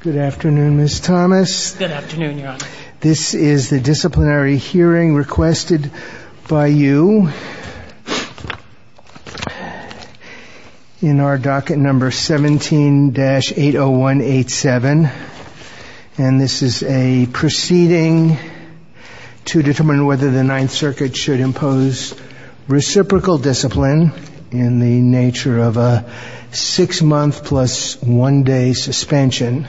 Good afternoon, Ms. Thomas. This is the disciplinary hearing requested by you in our docket number 17-80187, and this is a proceeding to determine whether the Ninth Circuit should impose reciprocal discipline in the nature of a six-month plus one-day suspension,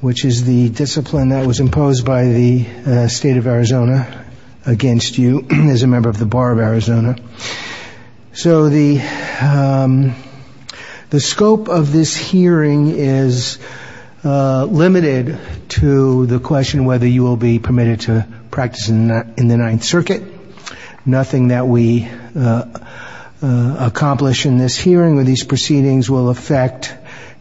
which is the discipline that was imposed by the state of Arizona against you as a member of the Bar of Arizona. So the scope of this hearing is limited to the question whether you will be permitted to practice in the Ninth Circuit. Nothing that we accomplish in this hearing or these proceedings will affect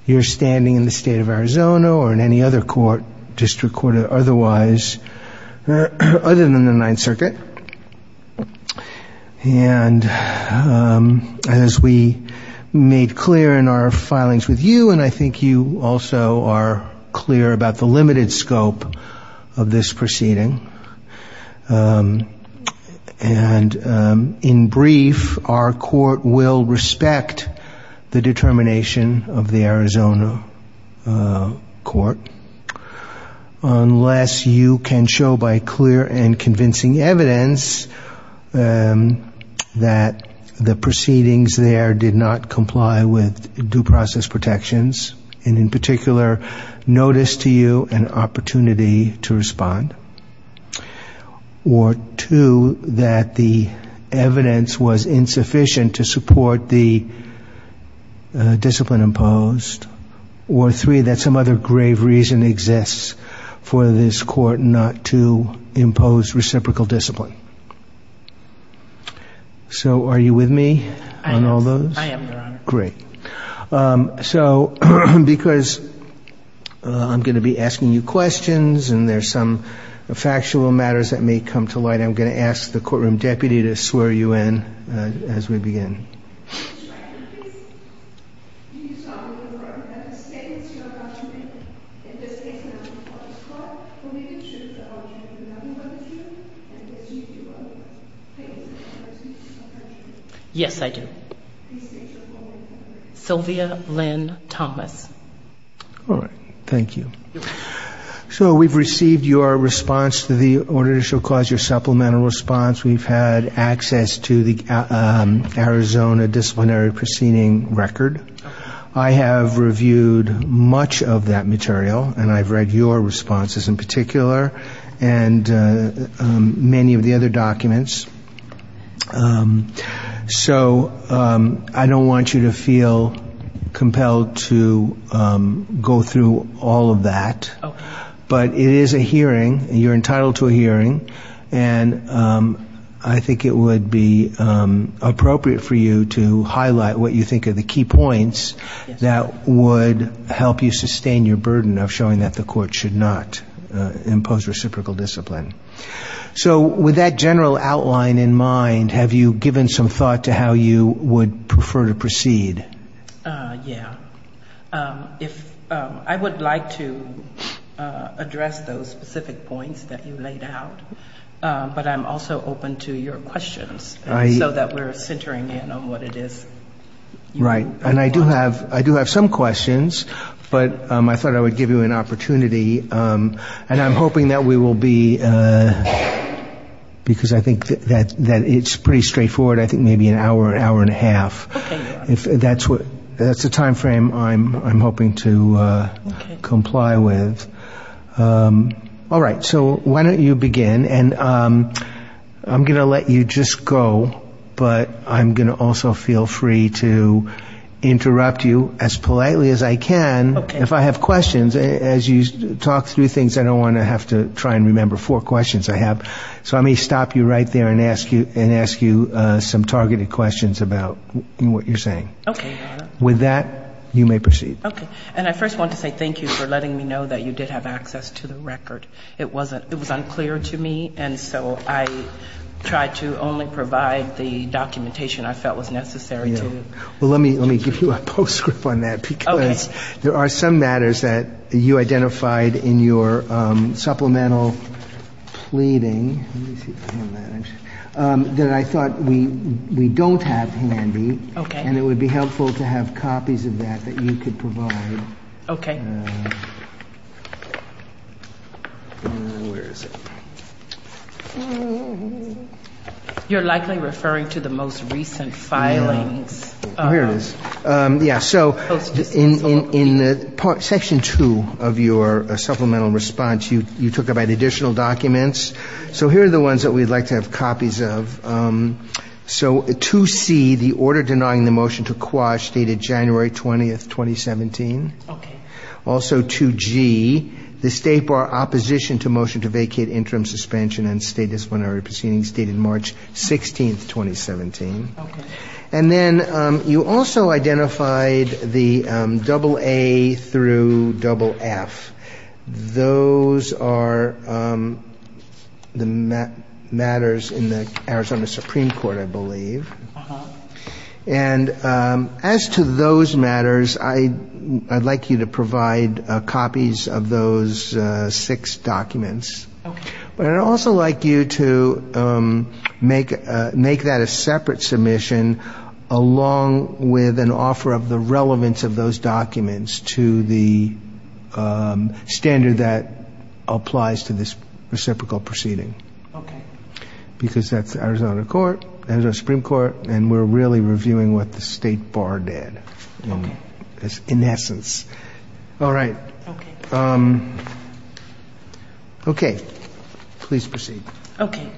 your standing in the state of Arizona or in any other court, district court or otherwise, other than the Ninth Circuit. And as we made clear in our filings with you, and I think you also are clear about the limited scope of this proceeding, and in brief, our court will respect the determination of the Arizona court unless you can show by clear and convincing evidence that the proceedings there did not or two, that the evidence was insufficient to support the discipline imposed, or three, that some other grave reason exists for this court not to impose reciprocal discipline. So are you with me on all those? I am, Your Honor. Great. So because I'm going to be asking you questions and there's some factual matters that may come to light, I'm going to ask the courtroom deputy to swear you in as we begin. Yes, I do. Sylvia Lynn Thomas. All right. Thank you. So we've received your response to the Ordinational Clause, your supplemental response. We've had access to the Arizona Disciplinary Proceeding Record. I have reviewed much of that material and I've read your responses in particular and many of the other documents. So I don't want you to feel compelled to go through all of that, but it is a hearing and you're entitled to a hearing, and I think it would be appropriate for you to highlight what you think are the key points that would help you sustain your burden of showing that the court should not impose reciprocal discipline. So with that general outline in mind, have you given some thought to how you would prefer to proceed? Yeah. I would like to address those specific points that you laid out, but I'm also open to your questions so that we're centering in on what it is. Right. And I do have some questions, but I thought I would give you an opportunity, and I'm hoping that we will be, because I think that it's pretty straightforward, I think maybe an hour or an hour and a half. That's the time frame I'm hoping to comply with. All right. So why don't you begin, and I'm going to let you just go, but I'm going to also feel free to interrupt you as politely as I can if I have questions. As you talk through things, I don't want to have to try and remember four questions I have. So let me stop you right there and ask you some targeted questions about what you're saying. Okay. With that, you may proceed. Okay. And I first want to say thank you for letting me know that you did have access to the record. It was unclear to me, and so I tried to only provide the documentation I felt was necessary to you. Well, let me give you a postscript on that, because there are some matters that you identified in your supplemental pleading that I thought we don't have handy, and it would be helpful to have copies of that that you could provide. Okay. You're likely referring to the most recent filing. Here it is. Yeah, so in section two of your supplemental response, you talked about additional documents. So here are the ones that we'd like to have copies of. So 2C, the order denying the motion to quash, dated January 20th, 2017. Okay. Also 2G, the state bar opposition to motion to vacate interim suspension and state disciplinary proceedings, dated March 16th, 2017. Okay. And then you also identified the AA through FF. Those are the matters in the Arizona Supreme Court, I believe. And as to those matters, I'd like you to provide copies of those six documents. Okay. And I'd also like you to make that a separate submission along with an offer of the relevance of those documents to the standard that applies to this reciprocal proceeding. Okay. Because that's the Arizona Supreme Court, and we're really reviewing what the state bar did in essence. All right. Okay. Okay. Please proceed. Okay.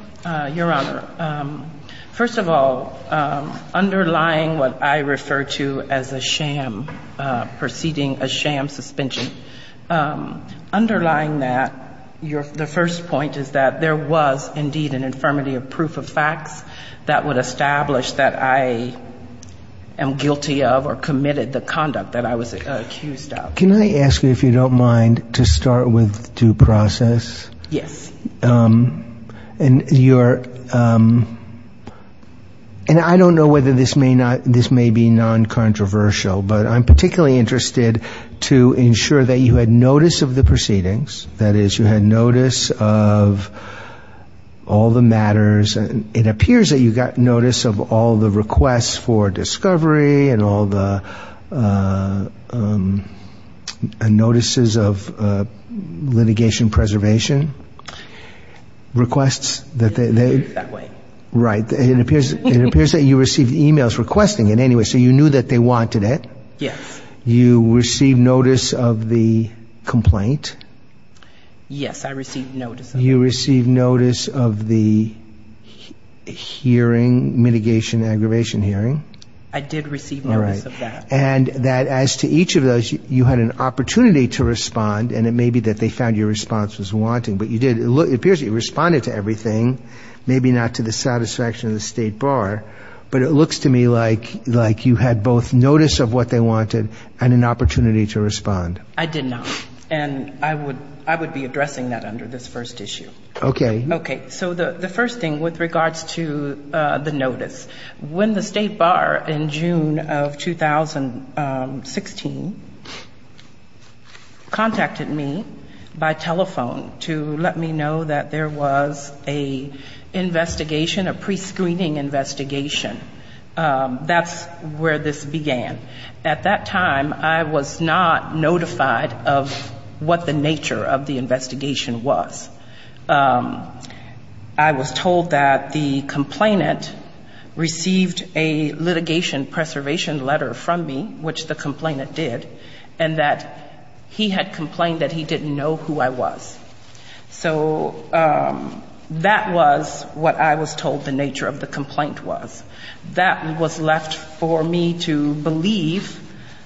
Your Honor, first of all, underlying what I refer to as a sham proceeding, a sham suspension, underlying that, the first point is that there was indeed an infirmity of proof of facts that would establish that I am guilty of or committed the conduct that I was accused of. Can I ask you, if you don't mind, to start with due process? Yes. And I don't know whether this may be non-controversial, but I'm particularly interested to ensure that you had notice of the proceedings. That is, you had notice of all the matters. That way. Right. It appears that you received e-mails requesting it anyway, so you knew that they wanted it. Yes. You received notice of the complaint. Yes, I received notice. You received notice of the hearing, mitigation, aggravation hearing. I did receive notice of that. And that as to each of those, you had an opportunity to respond, and it may be that they found your response was wanting, but you did. It appears you responded to everything, maybe not to the satisfaction of the State Bar, but it looks to me like you had both notice of what they wanted and an opportunity to respond. I did not. And I would be addressing that under this first issue. Okay. Okay. So the first thing with regards to the notice. When the State Bar in June of 2016 contacted me by telephone to let me know that there was an investigation, a prescreening investigation, that's where this began. At that time, I was not notified of what the nature of the investigation was. I was told that the complainant received a litigation preservation letter from me, which the complainant did, and that he had complained that he didn't know who I was. So that was what I was told the nature of the complaint was. That was left for me to believe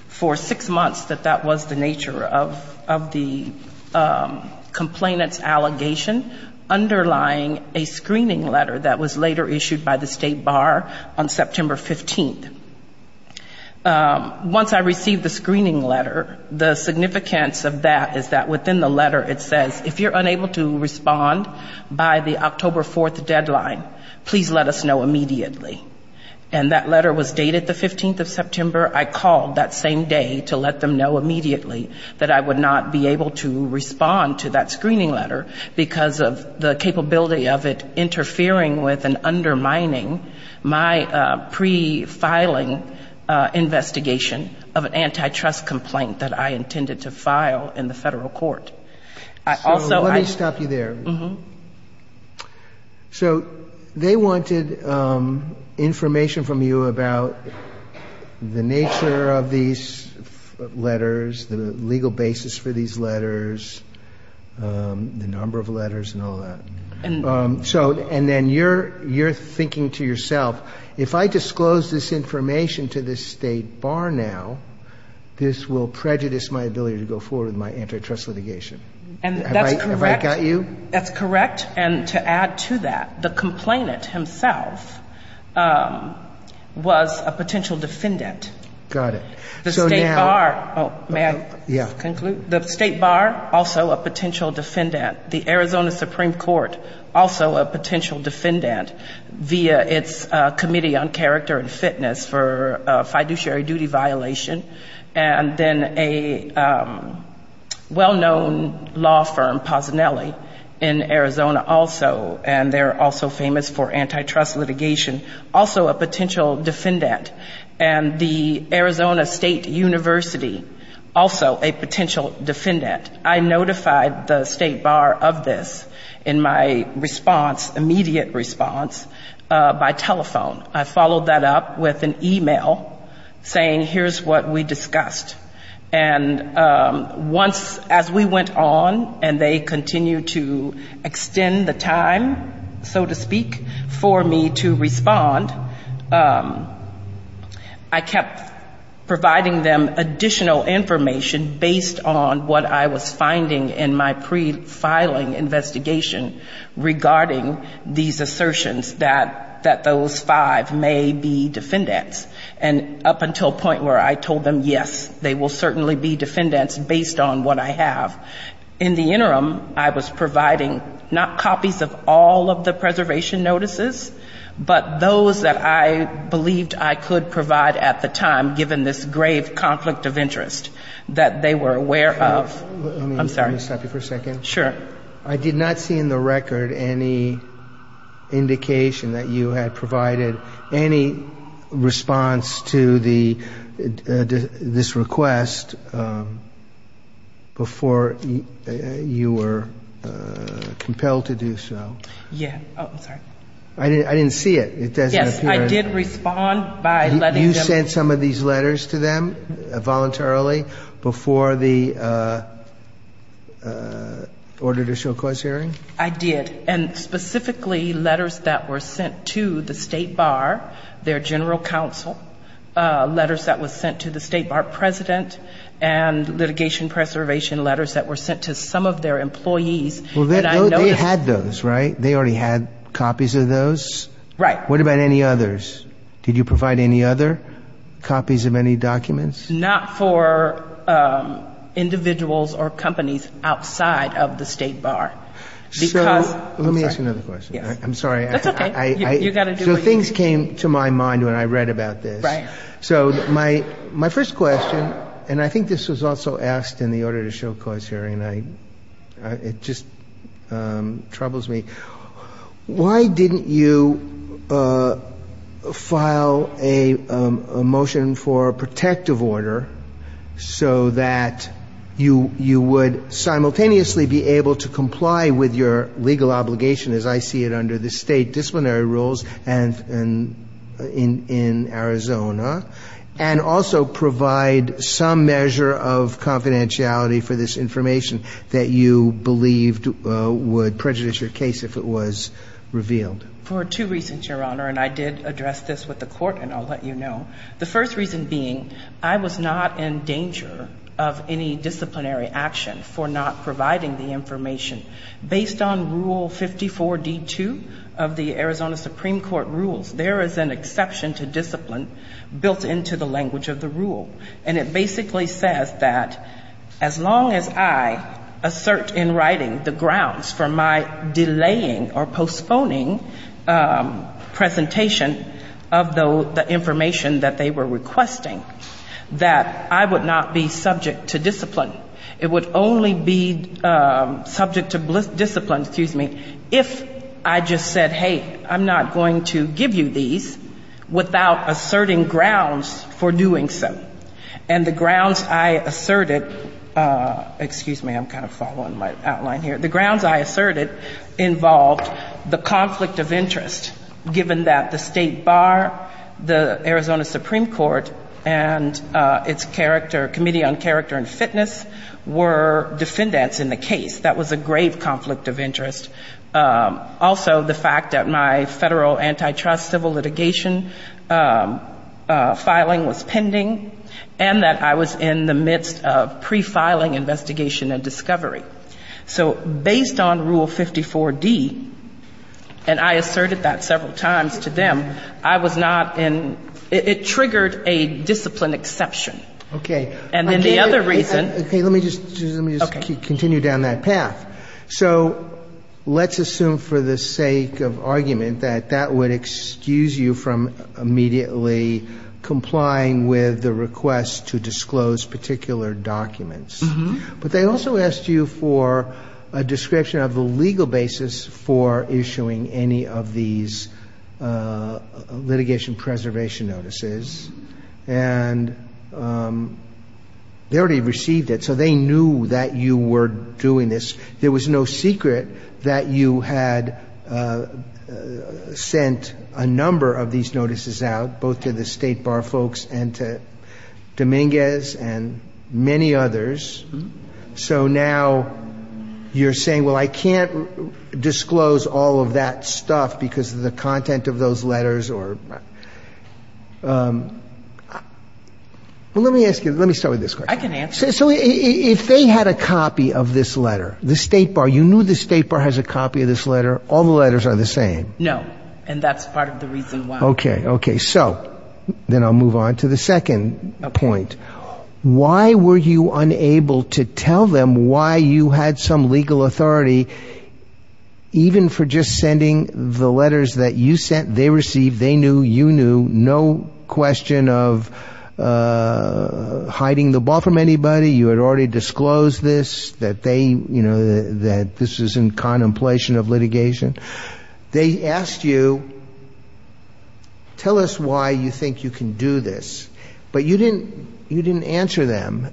for six months that that was the nature of the complainant's allegation underlying a screening letter that was later issued by the State Bar on September 15th. Once I received the screening letter, the significance of that is that within the letter it says, if you're unable to respond by the October 4th deadline, please let us know immediately. And that letter was dated the 15th of September. I called that same day to let them know immediately that I would not be able to respond to that screening letter because of the capability of it interfering with and undermining my pre-filing investigation of an antitrust complaint that I intended to file in the federal court. So let me stop you there. Mm-hmm. So they wanted information from you about the nature of these letters, the legal basis for these letters, the number of letters, and all that. And then you're thinking to yourself, if I disclose this information to the State Bar now, this will prejudice my ability to go forward with my antitrust litigation. And that's correct. Have I got you? That's correct. And to add to that, the complainant himself was a potential defendant. Got it. May I conclude? Yes. The State Bar, also a potential defendant. The Arizona Supreme Court, also a potential defendant via its Committee on Character and Fitness for a fiduciary duty violation. And then a well-known law firm, Posenelli, in Arizona also, and they're also famous for antitrust litigation, also a potential defendant. And the Arizona State University, also a potential defendant. I notified the State Bar of this in my response, immediate response, by telephone. I followed that up with an email saying, here's what we discussed. And once, as we went on, and they continued to extend the time, so to speak, for me to respond, I kept providing them additional information based on what I was finding in my pre-filing investigation regarding these assertions that those five may be defendants. And up until a point where I told them, yes, they will certainly be defendants based on what I have. In the interim, I was providing not copies of all of the preservation notices, but those that I believed I could provide at the time given this grave conflict of interest that they were aware of. I'm sorry. Let me stop you for a second. Sure. I did not see in the record any indication that you had provided any response to this request before you were compelled to do so. Yeah. Oh, okay. I didn't see it. Yes, I did respond by letting them. You provided some of these letters to them voluntarily before the order to show clause hearing? I did. And specifically letters that were sent to the State Bar, their general counsel, letters that were sent to the State Bar president, and litigation preservation letters that were sent to some of their employees. Well, they had those, right? They already had copies of those? Right. What about any others? Did you provide any other copies of any documents? Not for individuals or companies outside of the State Bar. Let me ask another question. I'm sorry. That's okay. Things came to my mind when I read about this. Right. So my first question, and I think this was also asked in the order to show clause hearing, it just troubles me. Why didn't you file a motion for a protective order so that you would simultaneously be able to comply with your legal obligation, as I see it under the state disciplinary rules in Arizona, and also provide some measure of confidentiality for this information that you believed would prejudice your case if it was revealed? For two reasons, Your Honor, and I did address this with the court and I'll let you know. The first reason being I was not in danger of any disciplinary action for not providing the information. Based on Rule 54-D2 of the Arizona Supreme Court rules, there is an exception to discipline built into the language of the rule. And it basically says that as long as I assert in writing the grounds for my delaying or postponing presentation of the information that they were requesting, that I would not be subject to discipline. It would only be subject to discipline if I just said, hey, I'm not going to give you these without asserting grounds for doing so. And the grounds I asserted, excuse me, I'm kind of following my outline here. The grounds I asserted involved the conflict of interest, given that the state bar, the Arizona Supreme Court, and its Committee on Character and Fitness were defendants in the case. That was a grave conflict of interest. Also, the fact that my federal antitrust civil litigation filing was pending and that I was in the midst of pre-filing investigation and discovery. So based on Rule 54-D, and I asserted that several times to them, I was not in, it triggered a discipline exception. Okay. And then the other reason. Let me just continue down that path. So let's assume for the sake of argument that that would excuse you from immediately complying with the request to disclose particular documents. But they also asked you for a description of the legal basis for issuing any of these litigation preservation notices. And they already received it, so they knew that you were doing this. There was no secret that you had sent a number of these notices out, both to the state bar folks and to Dominguez and many others. So now you're saying, well, I can't disclose all of that stuff because of the content of those letters. Well, let me ask you, let me start with this question. I can answer it. So if they had a copy of this letter, the state bar, you knew the state bar has a copy of this letter. All the letters are the same. No. And that's part of the reason why. Okay. Okay. So then I'll move on to the second point. Why were you unable to tell them why you had some legal authority, even for just sending the letters that you sent? They received. They knew. You knew. No question of hiding the ball from anybody. You had already disclosed this, that this was in contemplation of litigation. They asked you, tell us why you think you can do this. But you didn't answer them.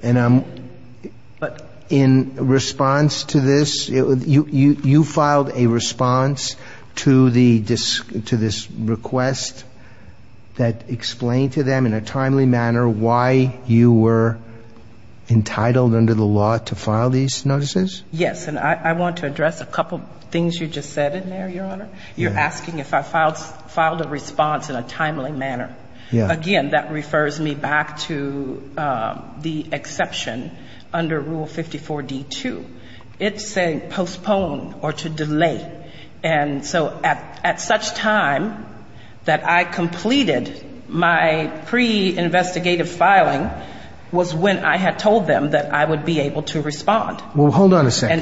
In response to this, you filed a response to this request that explained to them in a timely manner why you were entitled under the law to file these notices? Yes. And I want to address a couple things you just said in there, Your Honor. You're asking if I filed a response in a timely manner. Yeah. Again, that refers me back to the exception under Rule 54-D-2. It's a postpone or to delay. And so at such time that I completed my pre-investigative filing was when I had told them that I would be able to respond. Well, hold on a second.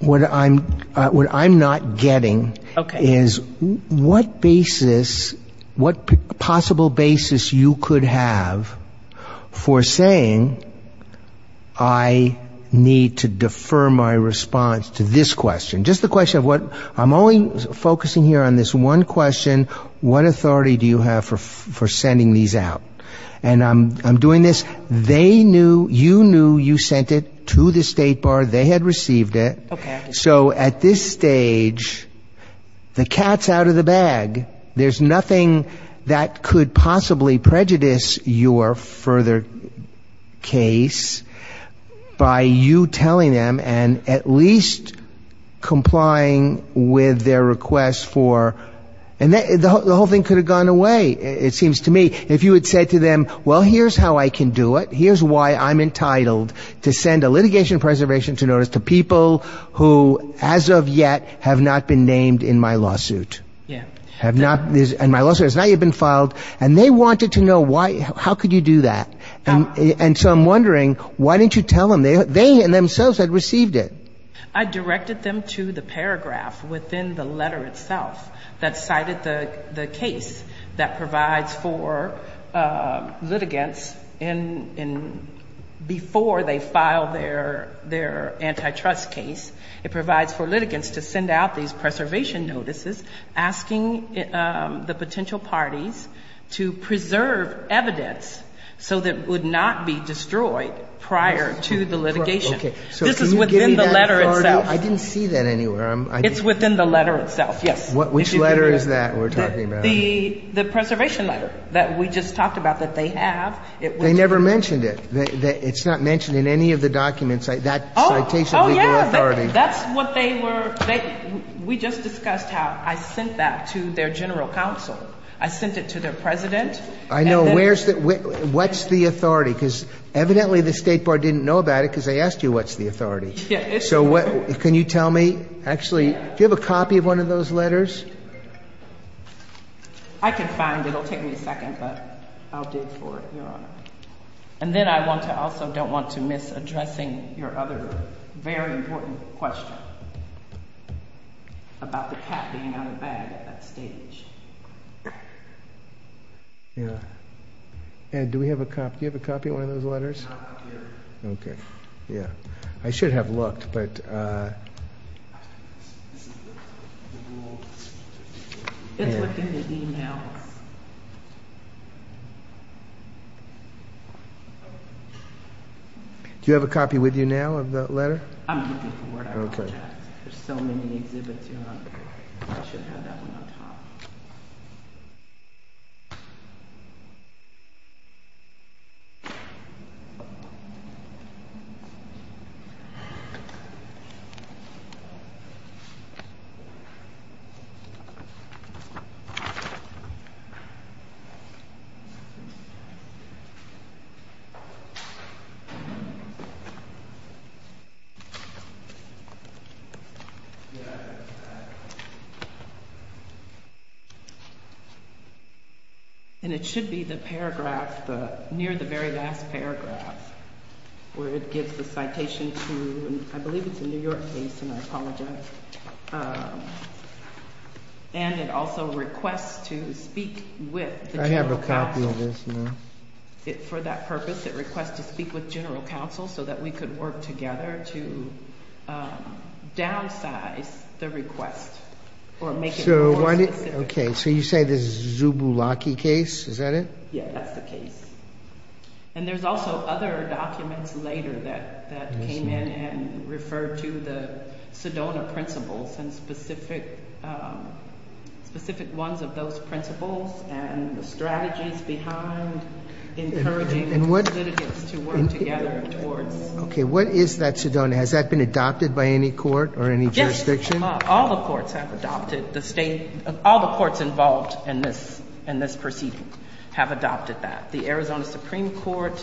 What I'm not getting is what basis, what possible basis you could have for saying I need to defer my response to this question. Just the question of what I'm only focusing here on this one question, what authority do you have for sending these out? And I'm doing this. They knew, you knew you sent it to the State Bar. They had received it. Okay. So at this stage, the cat's out of the bag. There's nothing that could possibly prejudice your further case by you telling them and at least complying with their request for... And the whole thing could have gone away, it seems to me. If you had said to them, well, here's how I can do it. Here's why I'm entitled to send a litigation preservation notice to people who as of yet have not been named in my lawsuit. Yeah. Have not, and my lawsuit has not yet been filed. And they wanted to know why, how could you do that? And so I'm wondering, why didn't you tell them? They themselves had received it. I directed them to the paragraph within the letter itself that cited the case that provides for litigants before they file their antitrust case. It provides for litigants to send out these preservation notices asking the potential parties to preserve evidence so that it would not be destroyed prior to the litigation. This is within the letter itself. I didn't see that anywhere. It's within the letter itself, yes. Which letter is that we're talking about? The preservation letter that we just talked about that they have. They never mentioned it. It's not mentioned in any of the documents. Oh, yeah. That's what they were... We just discussed how I sent that to their general counsel. I sent it to their president. I know. What's the authority? Because evidently the State Board didn't know about it because they asked you what's the authority. So can you tell me? Actually, do you have a copy of one of those letters? I can find it. It'll take me a second, but I'll do it for you, Your Honor. And then I also don't want to miss addressing your other very important question about the packing of the bag at that stage. Yeah. Ed, do we have a copy? Do you have a copy of one of those letters? I do. Okay. Yeah. I should have looked, but... Do you have a copy with you now of that letter? I'm looking for it. Okay. There's so many exhibits, Your Honor. Thank you. And it should be the paragraph, near the very last paragraph, where it gives the citation to... I believe it's the New York case, and I apologize. And it also requests to speak with... I have a copy of this, ma'am. For that purpose, it requests to speak with general counsel so that we can work together to downsize the request for a letter. Okay. So, you say this is a Zubulaki case. Is that it? Yeah, that's the case. And there's also other documents later that came in and referred to the Sedona principles and specific ones of those principles and strategies behind... Okay. What is that Sedona? Has that been adopted by any court or any jurisdiction? Yes. All the courts have adopted the state... all the courts involved in this proceeding have adopted that. The Arizona Supreme Court...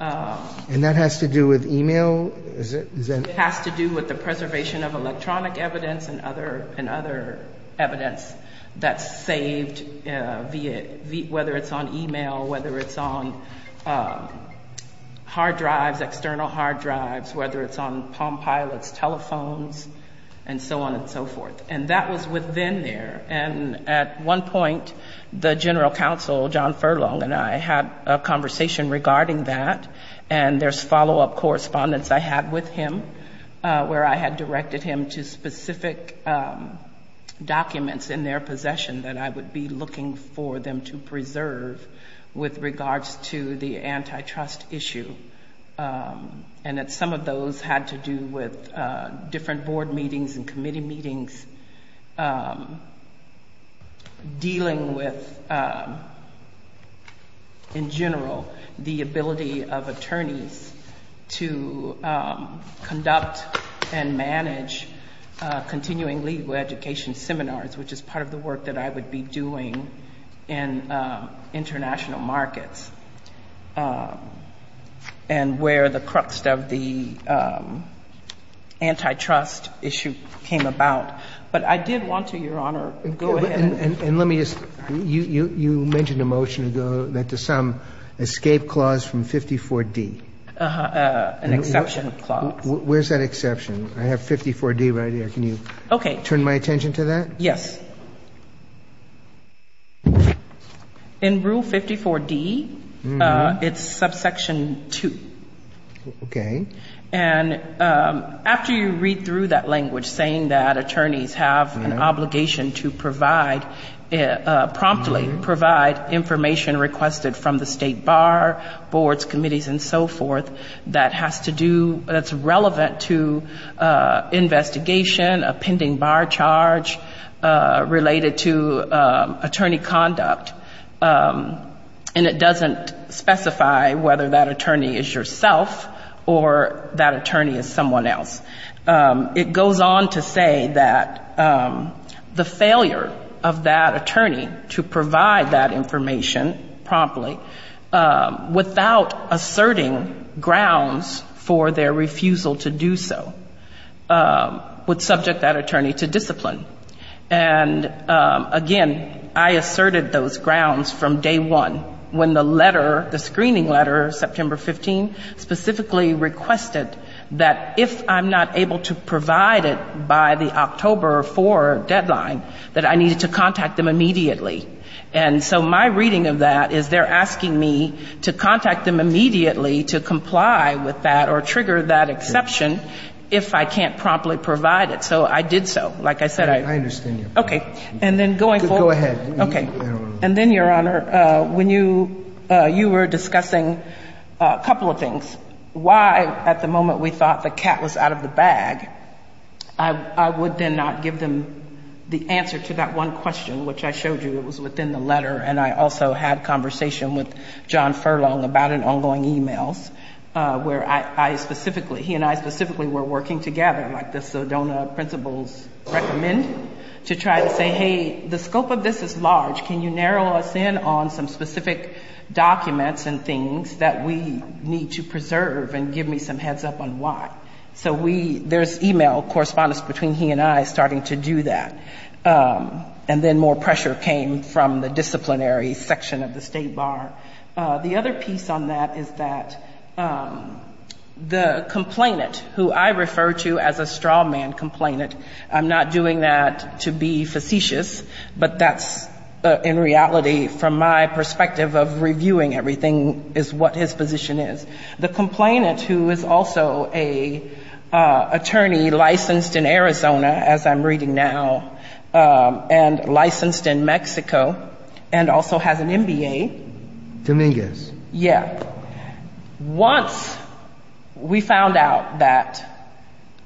And that has to do with email? It has to do with the preservation of electronic evidence and other evidence that's saved, whether it's on email, whether it's on hard drives, external hard drives, whether it's on Palm Pilot telephones, and so on. And so forth. And that was within there. And at one point, the general counsel, John Furlong, and I had a conversation regarding that. And there's follow-up correspondence I had with him, where I had directed him to specific documents in their possession that I would be looking for them to preserve with regards to the antitrust issue. And that some of those had to do with different board meetings and committee meetings, dealing with, in general, the ability of attorneys to conduct and manage continuing legal education seminars, which is part of the work that I would be doing in international markets. And where the crux of the antitrust issue came about. But I did want to, Your Honor... And let me just... you mentioned a motion that the sum escape clause from 54D. An exception clause. Where's that exception? I have 54D right here. Can you turn my attention to that? Yes. In Rule 54D, it's subsection 2. Okay. And it doesn't specify whether that attorney is yourself or that attorney is someone else. It goes on to say that the failure of that attorney to provide that information promptly, without asserting grounds for their refusal to do so, would subject that attorney to discipline. And, again, I asserted those grounds from day one, when the letter, the screening letter, September 15, specifically requested that if I'm not able to provide it by the October 4 deadline, that I needed to contact them immediately. And so my reading of that is they're asking me to contact them immediately to comply with that or trigger that exception if I can't promptly provide it. So I did so. Like I said, I... I understand. Okay. And then going forward... Go ahead. Okay. And then, Your Honor, when you were discussing a couple of things, why at the moment we thought the cat was out of the bag, I would then not give them the answer to that one question, which I showed you was within the letter. And I also had a conversation with John Furlong about an ongoing e-mail, where I specifically... he and I specifically were working together, like the Sedona principles recommend, to try to say, hey, the scope of this is large. Can you narrow us in on some specific documents and things that we need to preserve and give me some heads up on why? So we... there's e-mail correspondence between he and I starting to do that. And then more pressure came from the disciplinary section of the State Bar. The other piece on that is that the complainant, who I refer to as a straw man complainant, I'm not doing that to be facetious, but that's, in reality, from my perspective of reviewing everything, is what his position is. The complainant, who is also an attorney licensed in Arizona, as I'm reading now, and licensed in Mexico, and also has an MBA... Dominguez. Yeah. Once we found out that...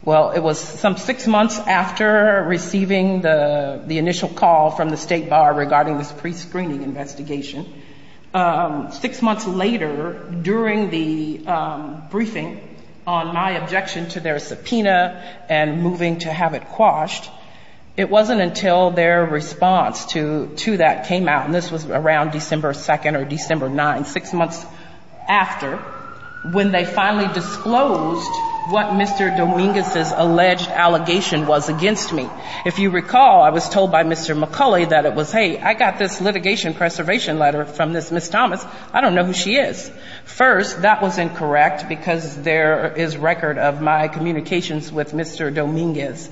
well, it was some six months after receiving the initial call from the State Bar regarding the pre-screening investigation. Six months later, during the briefing on my objection to their subpoena and moving to have it quashed, it wasn't until their response to that came out... And this was around December 2nd or December 9th, six months after, when they finally disclosed what Mr. Dominguez's alleged allegation was against me. If you recall, I was told by Mr. McCulley that it was, hey, I got this litigation preservation letter from this Ms. Thomas. I don't know who she is. First, that was incorrect because there is record of my communications with Mr. Dominguez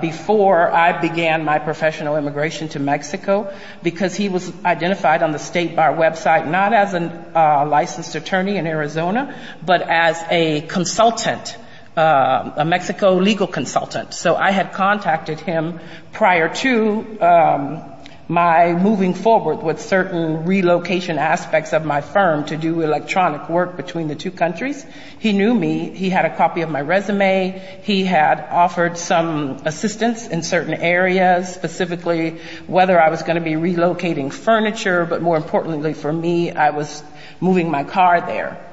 before I began my professional immigration to Mexico. Because he was identified on the State Bar website, not as a licensed attorney in Arizona, but as a consultant, a Mexico legal consultant. So, I had contacted him prior to my moving forward with certain relocation aspects of my firm to do electronic work between the two countries. He knew me. He had a copy of my resume. He had offered some assistance in certain areas, specifically whether I was going to be relocating furniture. But more importantly for me, I was moving my car there.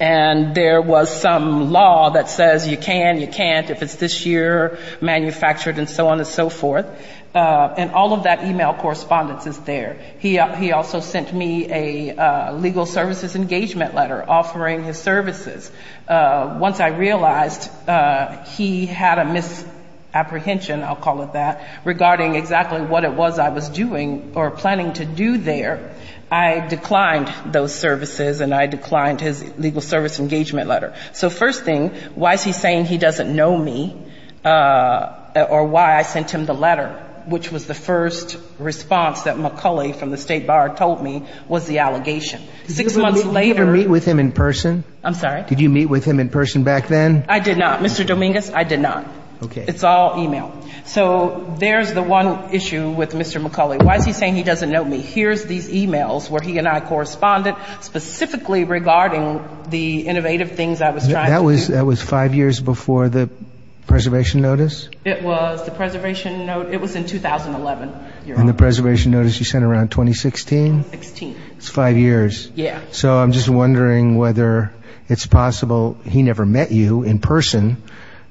And there was some law that says you can, you can't if it's this year, manufactured, and so on and so forth. And all of that email correspondence is there. He also sent me a legal services engagement letter offering the services. Once I realized he had a misapprehension, I'll call it that, regarding exactly what it was I was doing or planning to do there, I declined those services and I declined his legal services engagement letter. So first thing, why is he saying he doesn't know me or why I sent him the letter, which was the first response that McCulley from the State Bar told me was the allegation. Six months later... Did you meet with him in person? I'm sorry? Did you meet with him in person back then? I did not. Mr. Dominguez, I did not. Okay. It's all email. So, there's the one issue with Mr. McCulley. Why is he saying he doesn't know me? Here's these emails where he and I corresponded specifically regarding the innovative things I was trying to do. That was five years before the preservation notice? It was the preservation notice. It was in 2011. And the preservation notice you sent around 2016? 16. That's five years. Yeah. So I'm just wondering whether it's possible he never met you in person.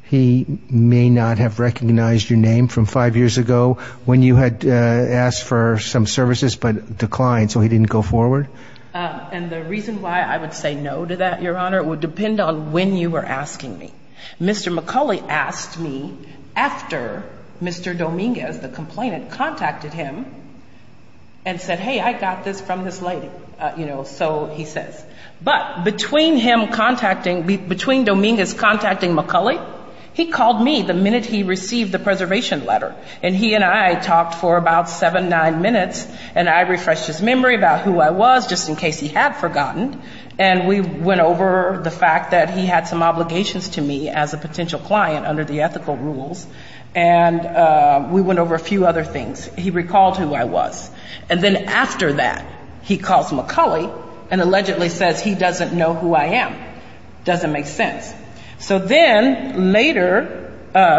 He may not have recognized your name from five years ago when you had asked for some services but declined, so he didn't go forward? And the reason why I would say no to that, Your Honor, would depend on when you were asking me. Mr. McCulley asked me after Mr. Dominguez, the complainant, contacted him and said, hey, I got this from this lady, you know, so he said. But between Dominguez contacting McCulley, he called me the minute he received the preservation letter. And he and I talked for about seven, nine minutes, and I refreshed his memory about who I was, just in case he had forgotten. And we went over the fact that he had some obligations to me as a potential client under the ethical rules, and we went over a few other things. He recalled who I was. And then after that, he calls McCulley and allegedly says he doesn't know who I am. Doesn't make sense. So then later,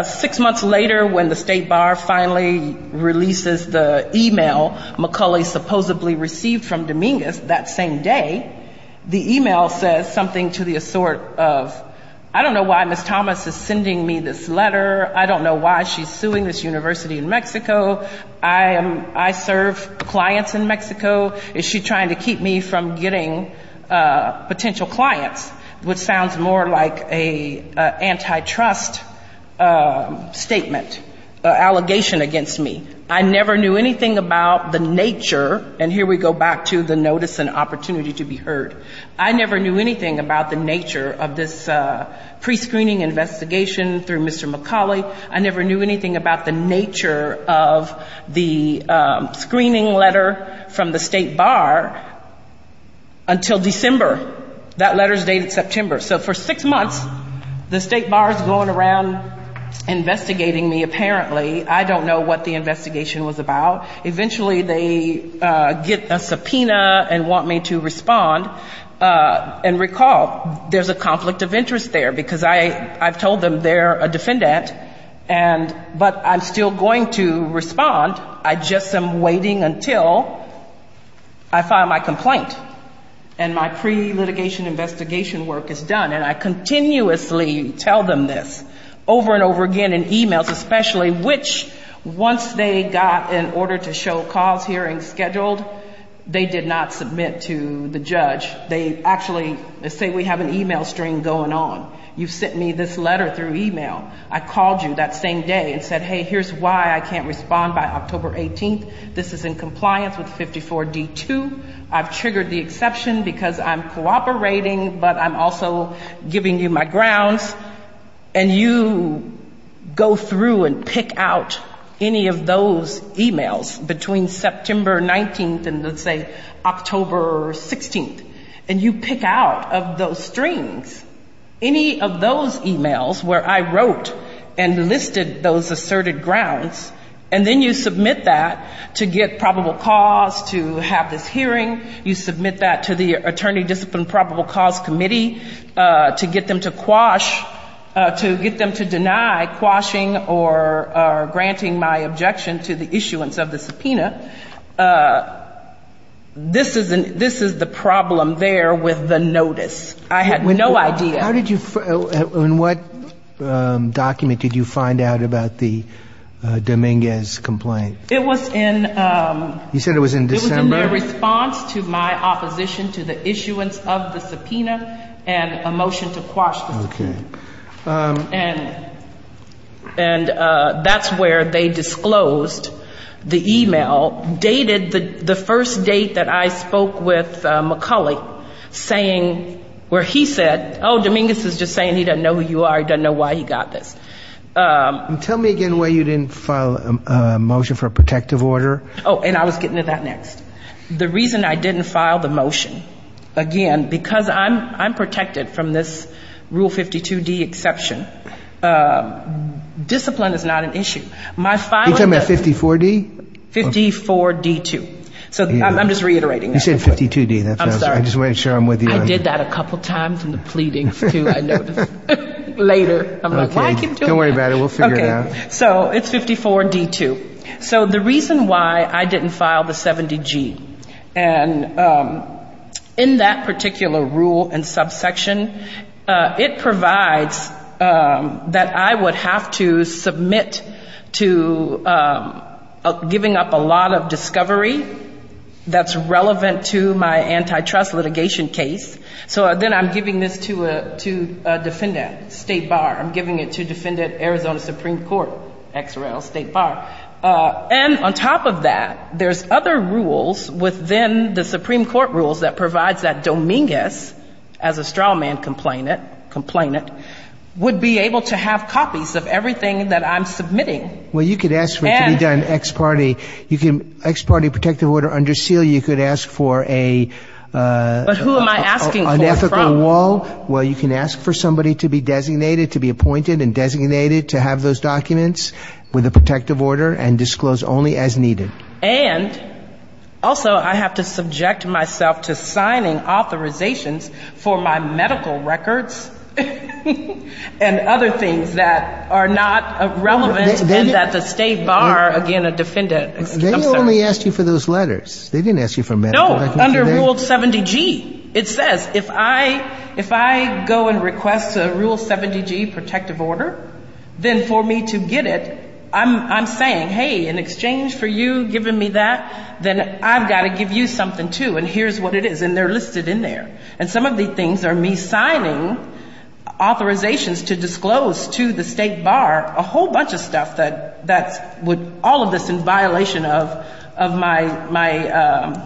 six months later, when the State Bar finally releases the email McCulley supposedly received from Dominguez that same day, the email says something to the sort of, I don't know why Ms. Thomas is sending me this letter. I don't know why she's suing this university in Mexico. I serve clients in Mexico. Is she trying to keep me from getting potential clients, which sounds more like an antitrust statement, an allegation against me. I never knew anything about the nature, and here we go back to the notice and opportunity to be heard. I never knew anything about the nature of this prescreening investigation through Mr. McCulley. I never knew anything about the nature of the screening letter from the State Bar until December. That letter is dated September. So for six months, the State Bar is going around investigating me apparently. I don't know what the investigation was about. Eventually they get a subpoena and want me to respond. And recall, there's a conflict of interest there because I told them they're a defendant, but I'm still going to respond. I just am waiting until I file my complaint and my pre-litigation investigation work is done. And I continuously tell them this over and over again in e-mails, especially which once they got an order to show calls here and scheduled, they did not submit to the judge. They actually say we have an e-mail string going on. You sent me this letter through e-mail. I called you that same day and said, hey, here's why I can't respond by October 18th. This is in compliance with 54D2. I've triggered the exception because I'm cooperating, but I'm also giving you my grounds. And you go through and pick out any of those e-mails between September 19th and, let's say, October 16th. And you pick out of those strings any of those e-mails where I wrote and listed those asserted grounds. And then you submit that to get probable cause, to have this hearing. You submit that to the Attorney-Disciplined Probable Cause Committee to get them to quash, to get them to deny quashing or granting my objection to the issuance of the subpoena. This is the problem there with the notice. I had no idea. On what document did you find out about the Dominguez complaint? It was in response to my opposition to the issuance of the subpoena and a motion to quash the complaint. And that's where they disclosed the e-mail dated the first date that I spoke with McCulloch, saying where he said, oh, Dominguez is just saying he doesn't know who you are. He doesn't know why he got this. Tell me again why you didn't file a motion for a protective order. Oh, and I was getting to that next. The reason I didn't file the motion, again, because I'm protected from this Rule 52D exception. Discipline is not an issue. You're talking about 54D? 54D2. I'm just reiterating that. You said 52D. I'm sorry. I just wanted to make sure I'm with you. I did that a couple times in the pleadings too, I noticed. Later. Don't worry about it. We'll figure it out. Okay. So it's 54D2. So the reason why I didn't file the 70G, and in that particular rule and subsection, it provides that I would have to submit to giving up a lot of discovery that's relevant to my antitrust litigation case. So then I'm giving this to a defendant, State Bar. I'm giving it to Defendant Arizona Supreme Court, XRL, State Bar. And on top of that, there's other rules within the Supreme Court rules that provides that Dominguez, as a straw man complainant, would be able to have copies of everything that I'm submitting. Well, you could ask for it to be done ex parte. Ex parte protective order under seal, you could ask for a unethical law. But who am I asking for it from? No. Well, you can ask for somebody to be designated, to be appointed and designated to have those documents with a protective order and disclose only as needed. And also I have to subject myself to signing authorizations for my medical records and other things that are not relevant as a State Bar, again, a defendant. They only asked you for those letters. They didn't ask you for medical records. No, under Rule 70G. It says, if I go and request a Rule 70G protective order, then for me to get it, I'm saying, hey, in exchange for you giving me that, then I've got to give you something, too. And here's what it is. And they're listed in there. And some of these things are me signing authorizations to disclose to the State Bar a whole bunch of stuff that would all of this in violation of my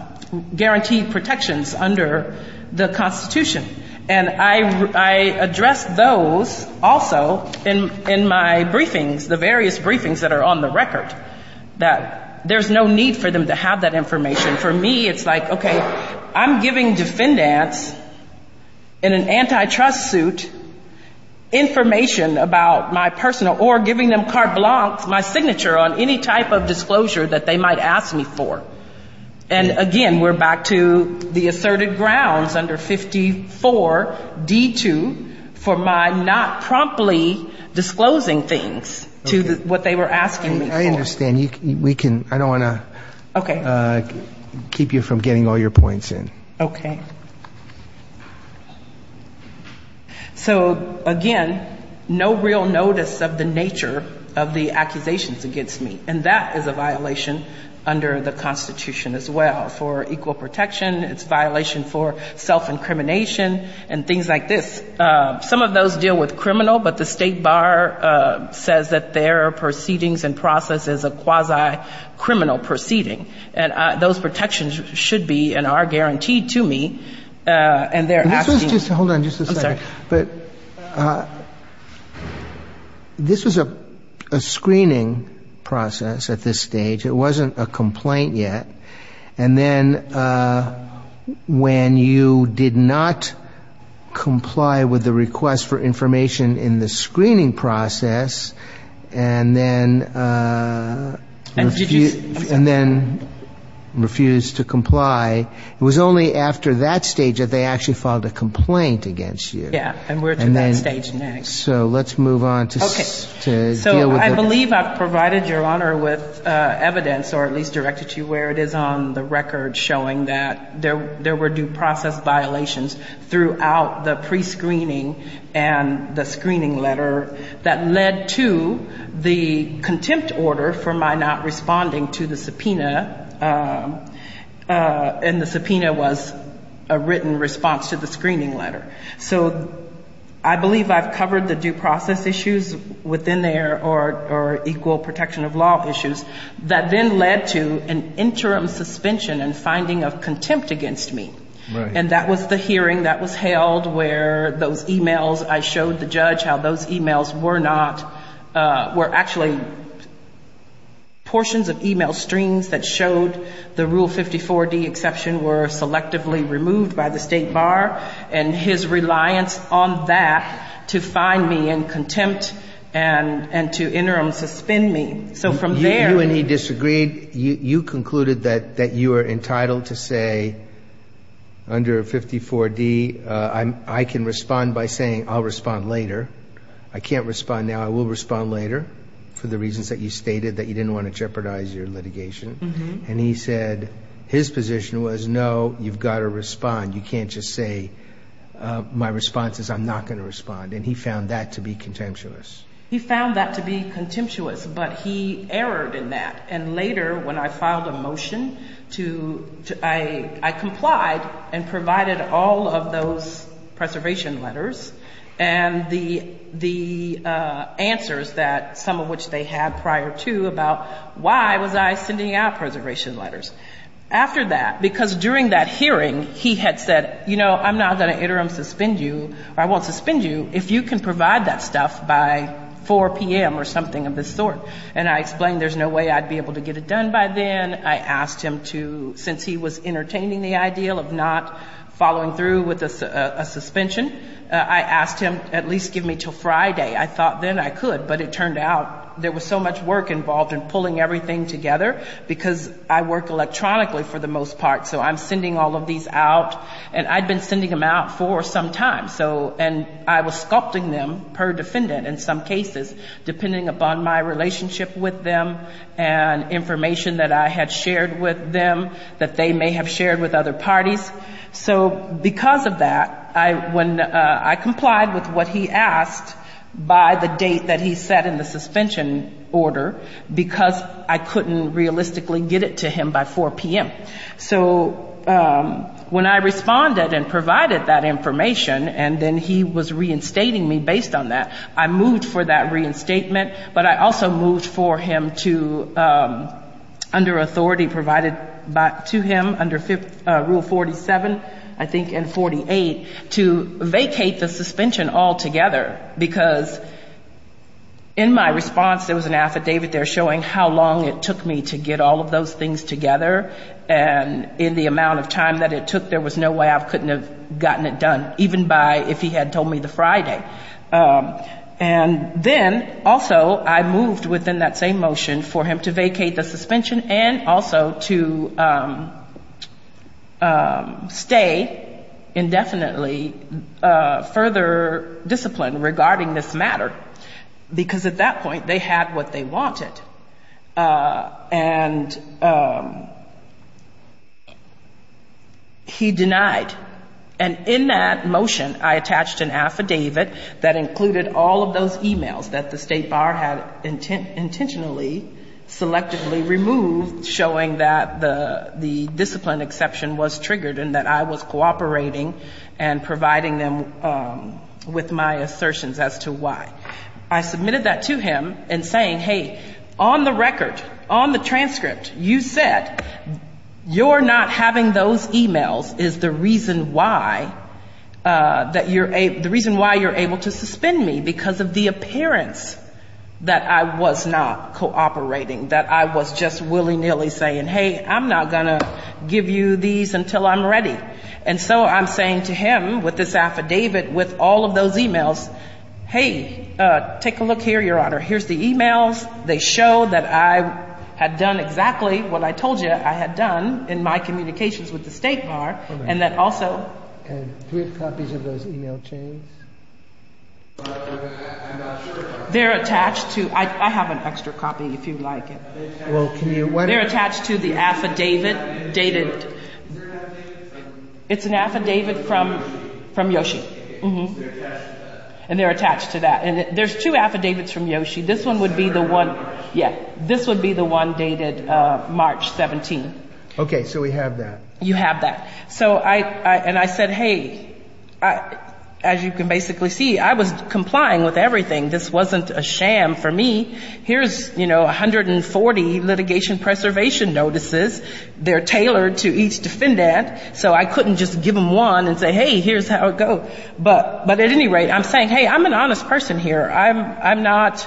guaranteed protections under the Constitution. And I address those also in my briefings, the various briefings that are on the record, that there's no need for them to have that information. For me, it's like, okay, I'm giving defendants in an antitrust suit information about my personal or giving them carte blanche my signature on any type of disclosure that they might ask me for. And, again, we're back to the assertive grounds under 54D2 for my not promptly disclosing things to what they were asking me for. I understand. I don't want to keep you from getting all your points in. Okay. So, again, no real notice of the nature of the accusations against me. And that is a violation under the Constitution as well for equal protection. It's a violation for self-incrimination and things like this. Some of those deal with criminal, but the State Bar says that their proceedings and process is a quasi-criminal proceeding. And those protections should be and are guaranteed to me. And they're asking— Hold on just a second. I'm sorry. This is a screening process at this stage. It wasn't a complaint yet. And then when you did not comply with the request for information in the screening process and then refused to comply, it was only after that stage that they actually filed a complaint against you. Yes. And we're to that stage next. I believe I've provided Your Honor with evidence, or at least directed you where it is on the record, showing that there were due process violations throughout the prescreening and the screening letter that led to the contempt order for my not responding to the subpoena. And the subpoena was a written response to the screening letter. So I believe I've covered the due process issues within there or equal protection of law issues that then led to an interim suspension and finding of contempt against me. Right. And that was the hearing that was held where those e-mails—I showed the judge how those e-mails were not— were actually portions of e-mail streams that showed the Rule 54D exception were selectively removed by the State Bar. And his reliance on that to find me in contempt and to interim suspend me. So from there— You and he disagreed. You concluded that you were entitled to say, under 54D, I can respond by saying I'll respond later. I can't respond now. I will respond later for the reasons that you stated, that you didn't want to jeopardize your litigation. And he said his position was, no, you've got to respond. You can't just say my response is I'm not going to respond. And he found that to be contemptuous. He found that to be contemptuous, but he erred in that. And later, when I filed a motion, I complied and provided all of those preservation letters and the answers, some of which they had prior to, about why was I sending out preservation letters. After that, because during that hearing, he had said, you know, I'm not going to interim suspend you, or I won't suspend you if you can provide that stuff by 4 p.m. or something of this sort. And I explained there's no way I'd be able to get it done by then. I asked him to, since he was entertaining the idea of not following through with a suspension, I asked him to at least give me until Friday. I thought then I could, but it turned out there was so much work involved in pulling everything together because I work electronically for the most part, so I'm sending all of these out. And I'd been sending them out for some time, and I was sculpting them per defendant in some cases, depending upon my relationship with them and information that I had shared with them that they may have shared with other parties. So because of that, I complied with what he asked by the date that he set in the suspension order because I couldn't realistically get it to him by 4 p.m. So when I responded and provided that information, and then he was reinstating me based on that, I moved for that reinstatement, but I also moved for him to, under authority provided to him, under Rule 47, I think, and 48, to vacate the suspension altogether because in my response there was an affidavit there showing how long it took me to get all of those things together, and in the amount of time that it took, there was no way I couldn't have gotten it done, even if he had told me the Friday. And then also I moved within that same motion for him to vacate the suspension and also to stay indefinitely further disciplined regarding this matter because at that point they had what they wanted, and he denied. And in that motion, I attached an affidavit that included all of those emails that the State Bar had intentionally, selectively removed, showing that the discipline exception was triggered and that I was cooperating and providing them with my assertions as to why. I submitted that to him in saying, hey, on the record, on the transcript, you said you're not having those emails is the reason why you're able to suspend me because of the appearance that I was not cooperating, that I was just willy-nilly saying, hey, I'm not going to give you these until I'm ready. And so I'm saying to him with this affidavit with all of those emails, hey, take a look here, Your Honor. Here's the emails. They show that I had done exactly what I told you I had done in my communications with the State Bar, and that also. And here are copies of those email chains. They're attached to, I have an extra copy if you'd like it. They're attached to the affidavit dated, it's an affidavit from Yoshi. And they're attached to that. And there's two affidavits from Yoshi. This one would be the one, yes, this would be the one dated March 17th. Okay, so we have that. You have that. And I said, hey, as you can basically see, I was complying with everything. This wasn't a sham for me. Here's 140 litigation preservation notices. They're tailored to each defendant, so I couldn't just give them one and say, hey, here's how it goes. But at any rate, I'm saying, hey, I'm an honest person here. I'm not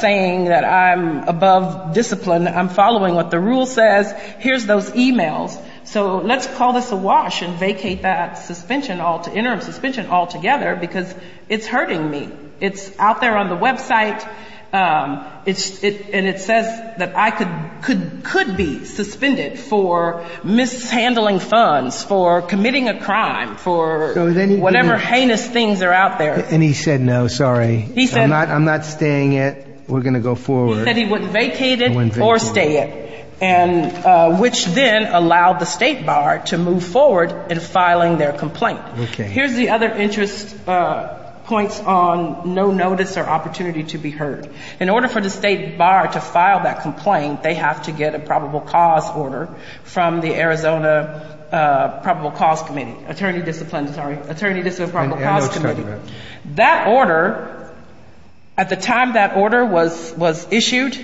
saying that I'm above discipline. I'm following what the rule says. Here's those emails. So let's call this a wash and vacate that suspension altogether because it's hurting me. It's out there on the website, and it says that I could be suspended for mishandling funds, for committing a crime, for whatever heinous things are out there. And he said no, sorry. I'm not staying it. We're going to go forward. He said he wouldn't vacate it or stay it. Which then allowed the State Bar to move forward in filing their complaint. Here's the other interest points on no notice or opportunity to be heard. In order for the State Bar to file that complaint, they have to get a probable cause order from the Arizona Probable Cause Committee. Attorney Discipline, sorry. Attorney Discipline Probable Cause Committee. That order, at the time that order was issued,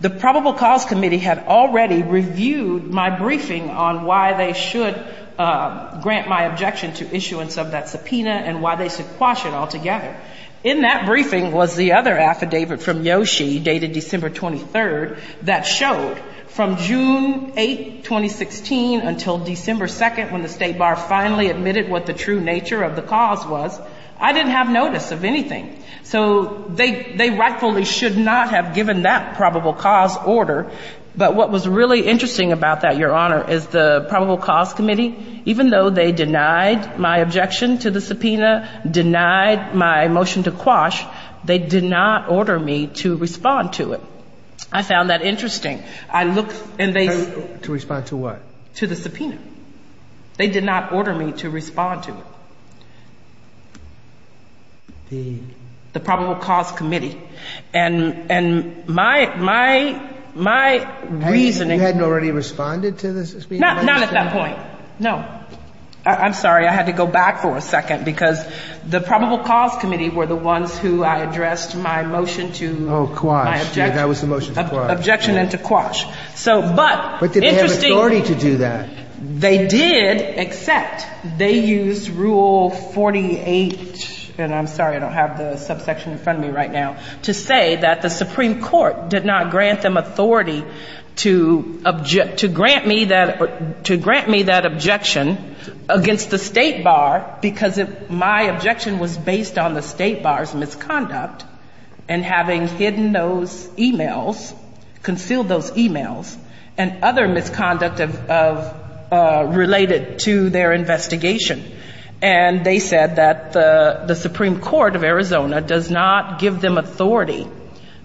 the Probable Cause Committee had already reviewed my briefing on why they should grant my objection to issuance of that subpoena and why they should quash it altogether. In that briefing was the other affidavit from Yoshi dated December 23rd that showed from June 8, 2016, until December 2nd when the State Bar finally admitted what the true nature of the cause was, I didn't have notice of anything. They rightfully should not have given that probable cause order, but what was really interesting about that, Your Honor, is the Probable Cause Committee, even though they denied my objection to the subpoena, denied my motion to quash, they did not order me to respond to it. I found that interesting. To respond to what? To the subpoena. They did not order me to respond to it. The Probable Cause Committee. And my reasoning... You hadn't already responded to the subpoena? Not at that point, no. I'm sorry, I had to go back for a second because the Probable Cause Committee were the ones who I addressed my motion to... Oh, quash. My objection. That was the motion to quash. Objection to quash. But did they have authority to do that? They did, except they used Rule 48, and I'm sorry, I don't have the subsection in front of me right now, to say that the Supreme Court did not grant them authority to grant me that objection against the State Bar because my objection was based on the State Bar's misconduct and having hidden those emails, concealed those emails, and other misconduct related to their investigation. And they said that the Supreme Court of Arizona does not give them authority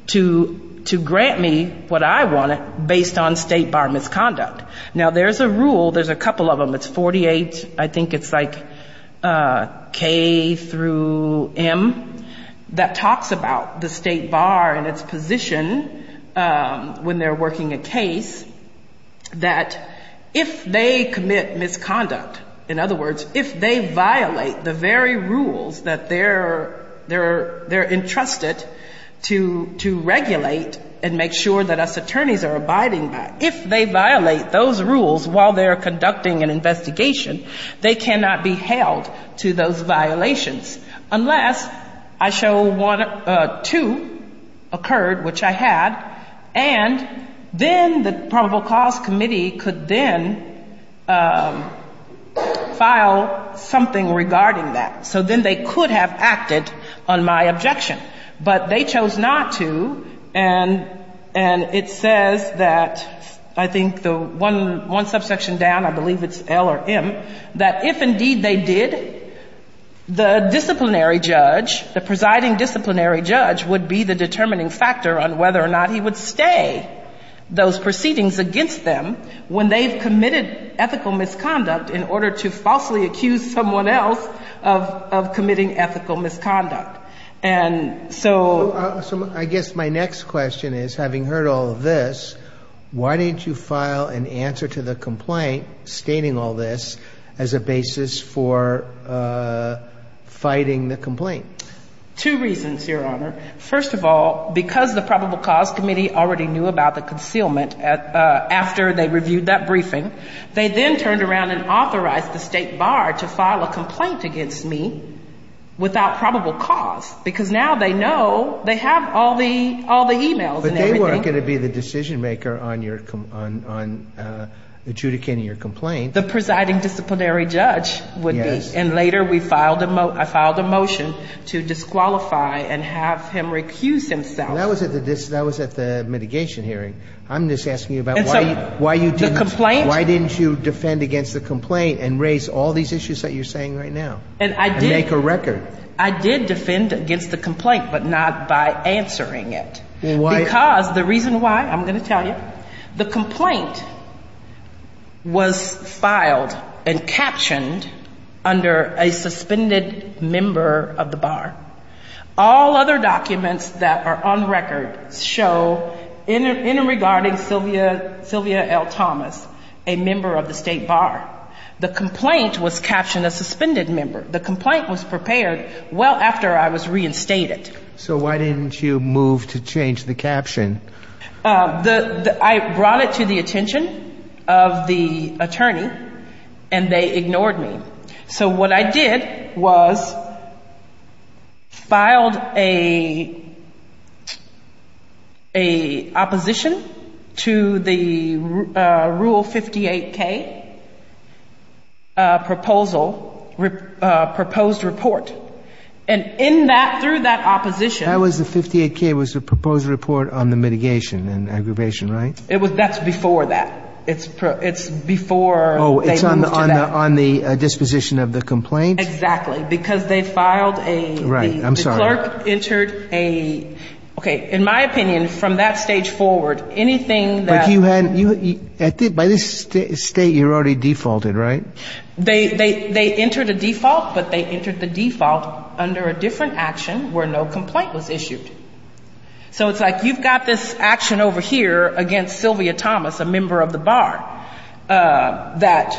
to grant me what I wanted based on State Bar misconduct. Now there's a rule, there's a couple of them, it's 48, I think it's like K through M, that talks about the State Bar and its position when they're working a case that if they commit misconduct, in other words, if they violate the very rules that they're entrusted to regulate and make sure that us attorneys are abiding by, if they violate those rules while they're conducting an investigation, they cannot be held to those violations unless I show two occurred, which I had, and then the Probable Cause Committee could then file something regarding that. So then they could have acted on my objection. But they chose not to, and it says that, I think the one subsection down, I believe it's L or M, that if indeed they did, the disciplinary judge, the presiding disciplinary judge, would be the determining factor on whether or not he would stay those proceedings against them when they've committed ethical misconduct in order to falsely accuse someone else of committing ethical misconduct. So I guess my next question is, having heard all of this, why didn't you file an answer to the complaint stating all this as a basis for fighting the complaint? Two reasons, Your Honor. First of all, because the Probable Cause Committee already knew about the concealment after they reviewed that briefing, they then turned around and authorized the State Bar to file a complaint against me without probable cause, because now they know they have all the emails and everything. But they weren't going to be the decision maker on adjudicating your complaint. The presiding disciplinary judge would be. And later I filed a motion to disqualify and have him recuse himself. That was at the mitigation hearing. I'm just asking you about why didn't you defend against the complaint and raise all these issues that you're saying right now and make a record? I did defend against the complaint, but not by answering it. The reason why, I'm going to tell you. The complaint was filed and captioned under a suspended member of the Bar. All other documents that are on record show, in regarding Sylvia L. Thomas, a member of the State Bar. The complaint was captioned a suspended member. The complaint was prepared well after I was reinstated. So why didn't you move to change the caption? I brought it to the attention of the attorney, and they ignored me. So what I did was filed an opposition to the Rule 58k proposed report. And in that, through that opposition. That was the 58k, was the proposed report on the mitigation and aggravation, right? That's before that. It's before. Oh, it's on the disposition of the complaint? Exactly, because they filed a... Right, I'm sorry. The clerk entered a... Okay, in my opinion, from that stage forward, anything that... By this state, you're already defaulted, right? They entered a default, but they entered the default under a different action where no complaint was issued. So it's like you've got this action over here against Sylvia Thomas, a member of the Bar. That,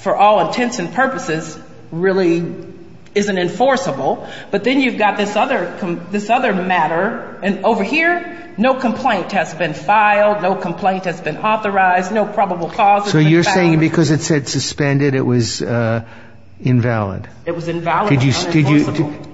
for all intents and purposes, really isn't enforceable. But then you've got this other matter. And over here, no complaint has been filed. No complaint has been authorized. No probable causes. So you're saying because it said suspended, it was invalid? It was invalid.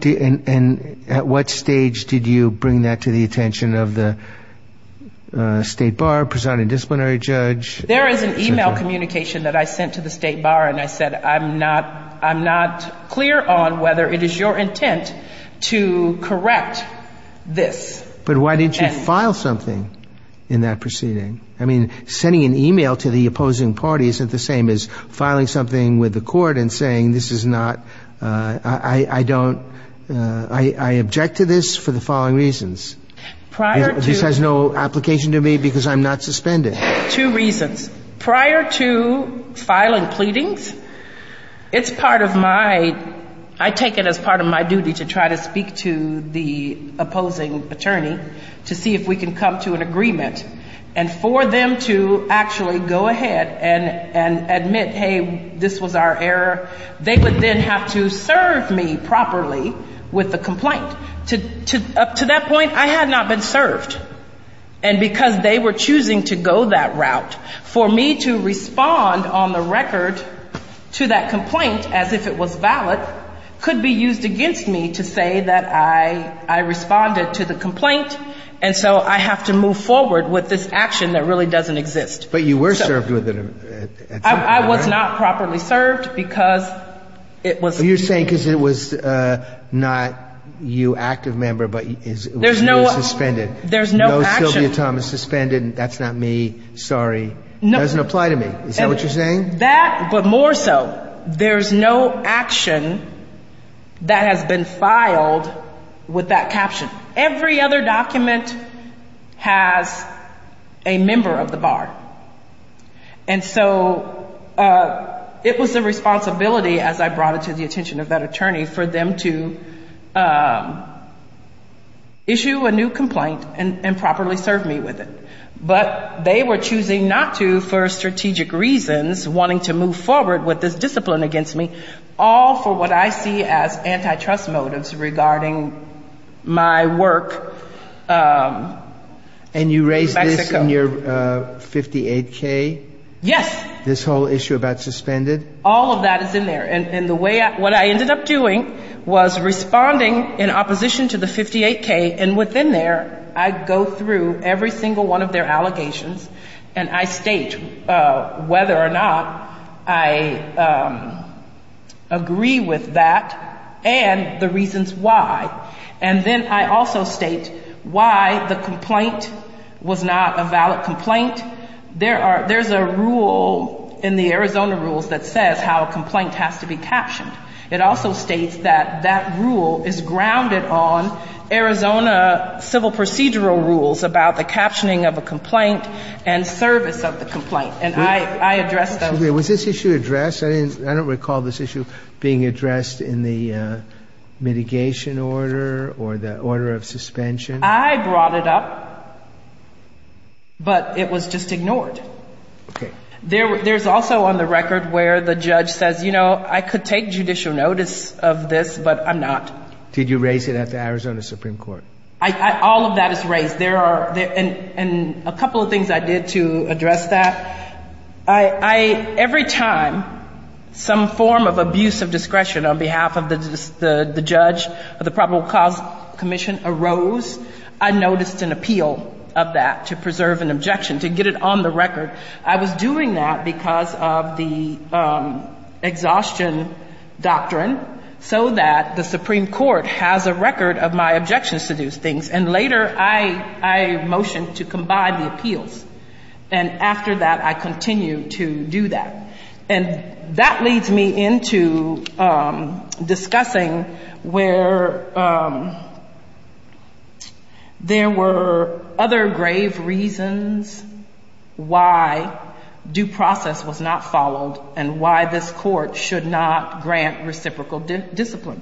And at what stage did you bring that to the attention of the State Bar, presiding disciplinary judge? There is an e-mail communication that I sent to the State Bar, and I said, I'm not clear on whether it is your intent to correct this. But why didn't you file something in that proceeding? I mean, sending an e-mail to the opposing party isn't the same as filing something with the court and saying this is not... I don't... I object to this for the following reasons. This has no application to me because I'm not suspended. Two reasons. Prior to filing pleadings, it's part of my... I take it as part of my duty to try to speak to the opposing attorney to see if we can come to an agreement. And for them to actually go ahead and admit, hey, this was our error, they would then have to serve me properly with the complaint. Up to that point, I had not been served. And because they were choosing to go that route, for me to respond on the record to that complaint as if it was valid, could be used against me to say that I responded to the complaint. And so, I have to move forward with this action that really doesn't exist. But you were served with it... I was not properly served because it was... You're saying because it was not you, active member, but it was suspended. There's no... No Sylvia Thomas suspended, that's not me, sorry, doesn't apply to me. Is that what you're saying? That, but more so, there's no action that has been filed with that caption. Every other document has a member of the bar. And so, it was a responsibility as I brought it to the attention of that attorney for them to issue a new complaint and properly serve me with it. But they were choosing not to for strategic reasons, wanting to move forward with this discipline against me, all for what I see as antitrust motives regarding my work... And you raised this in your 58K? Yes. This whole issue about suspended? All of that is in there. And what I ended up doing was responding in opposition to the 58K. And within there, I go through every single one of their allegations and I state whether or not I agree with that and the reasons why. And then I also state why the complaint was not a valid complaint. There's a rule in the Arizona rules that says how a complaint has to be captioned. It also states that that rule is grounded on Arizona civil procedural rules about the captioning of a complaint and service of the complaint. And I addressed those. Was this issue addressed? I don't recall this issue being addressed in the mitigation order or the order of suspension. I brought it up, but it was just ignored. There's also on the record where the judge says, you know, I could take judicial notice of this, but I'm not. Did you raise it at the Arizona Supreme Court? All of that is raised. And a couple of things I did to address that. Every time some form of abuse of discretion on behalf of the judge or the probable cause commission arose, I noticed an appeal of that to preserve an objection, to get it on the record. I was doing that because of the exhaustion doctrine so that the Supreme Court has a record of my objections to these things. And later I motioned to combine the appeals. And after that, I continued to do that. And that leads me into discussing where there were other grave reasons why due process was not followed and why this court should not grant reciprocal discipline.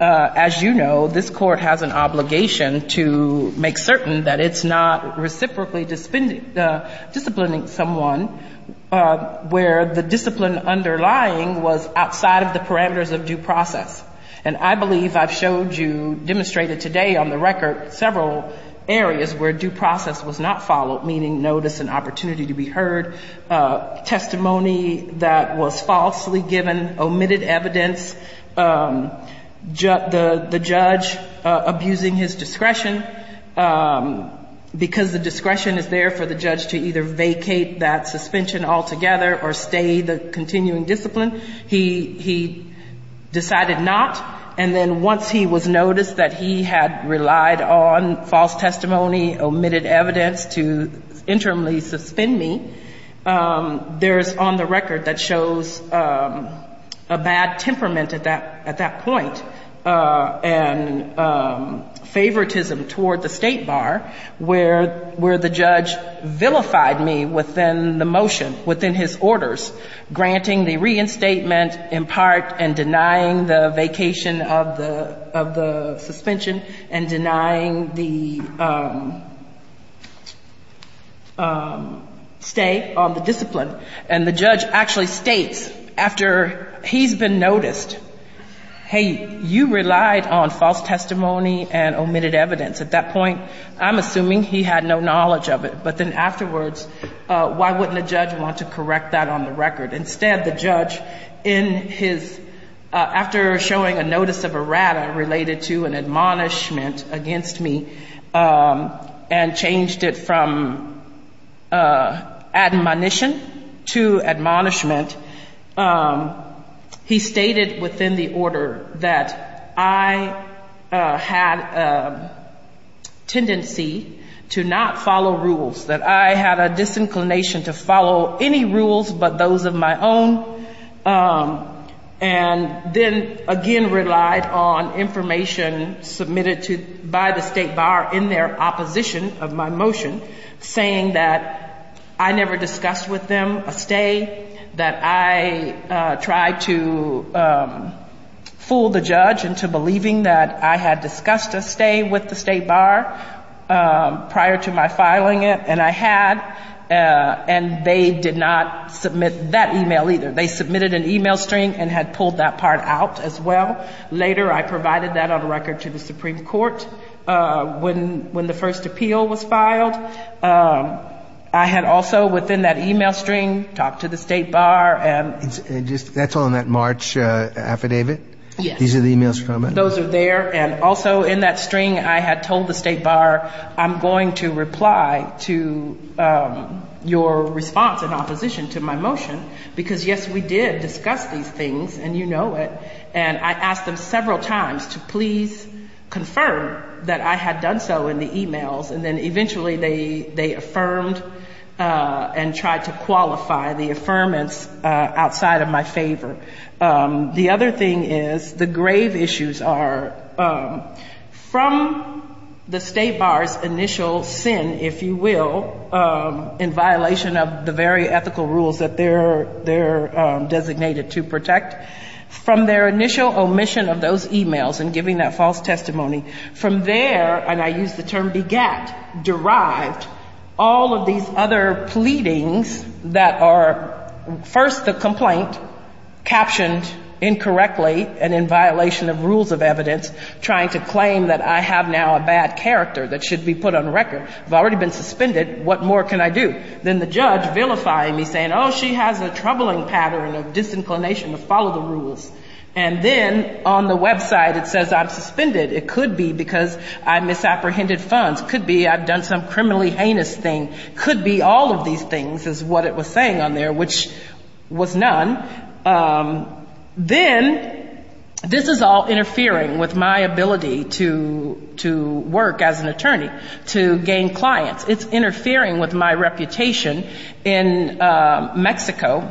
As you know, this court has an obligation to make certain that it's not reciprocally disciplining someone where the discipline underlying was outside of the parameters of due process. And I believe I've showed you, demonstrated today on the record, several areas where due process was not followed, meaning notice and opportunity to be heard, testimony that was falsely given, omitted evidence, the judge abusing his discretion, because the discretion is there for the judge to either vacate that suspension altogether or stay the continuing discipline. He decided not. And then once he was noticed that he had relied on false testimony, omitted evidence to interimly suspend me, there's on the record that shows a bad temperament at that point and favoritism toward the state bar where the judge vilified me within the motion, within his orders, granting the reinstatement in part and denying the vacation of the suspension and denying the stay on the discipline. And the judge actually states after he's been noticed, hey, you relied on false testimony and omitted evidence. At that point, I'm assuming he had no knowledge of it. But then afterwards, why wouldn't a judge want to correct that on the record? Instead, the judge, after showing a notice of errata related to an admonishment against me and changed it from admonition to admonishment, he stated within the order that I had a tendency to not follow rules, that I had a disinclination to follow any rules but those of my own and then again relied on information submitted by the state bar in their opposition of my motion saying that I never discussed with them a stay, that I tried to fool the judge into believing that I had discussed a stay with the state bar prior to my filing it and I had and they did not submit that email either. They submitted an email stream and had pulled that part out as well. Later, I provided that on record to the Supreme Court when the first appeal was filed. I had also within that email stream talked to the state bar. That's on that March affidavit? Yes. These are the emails from it? Those are there and also in that stream, I had told the state bar, I'm going to reply to your response in opposition to my motion because yes, we did discuss these things and you know it and I asked them several times to please confirm that I have done so in the emails and then eventually they affirmed and tried to qualify the affirmance outside of my favor. The other thing is the grave issues are from the state bar's initial sin, if you will, in violation of the very ethical rules that they're designated to protect, from their initial omission of those emails and giving that false testimony, from there, and I use the term begat, derived, all of these other pleadings that are first a complaint, captioned incorrectly and in violation of rules of evidence, trying to claim that I have now a bad character that should be put on record. I've already been suspended. What more can I do? Then the judge vilifying me saying, oh, she has a troubling pattern of disinclination to follow the rules and then on the website it says I'm suspended. It could be because I misapprehended funds. It could be I've done some criminally heinous thing. It could be all of these things is what it was saying on there, which was none. Then this is all interfering with my ability to work as an attorney, to gain clients. It's interfering with my reputation in Mexico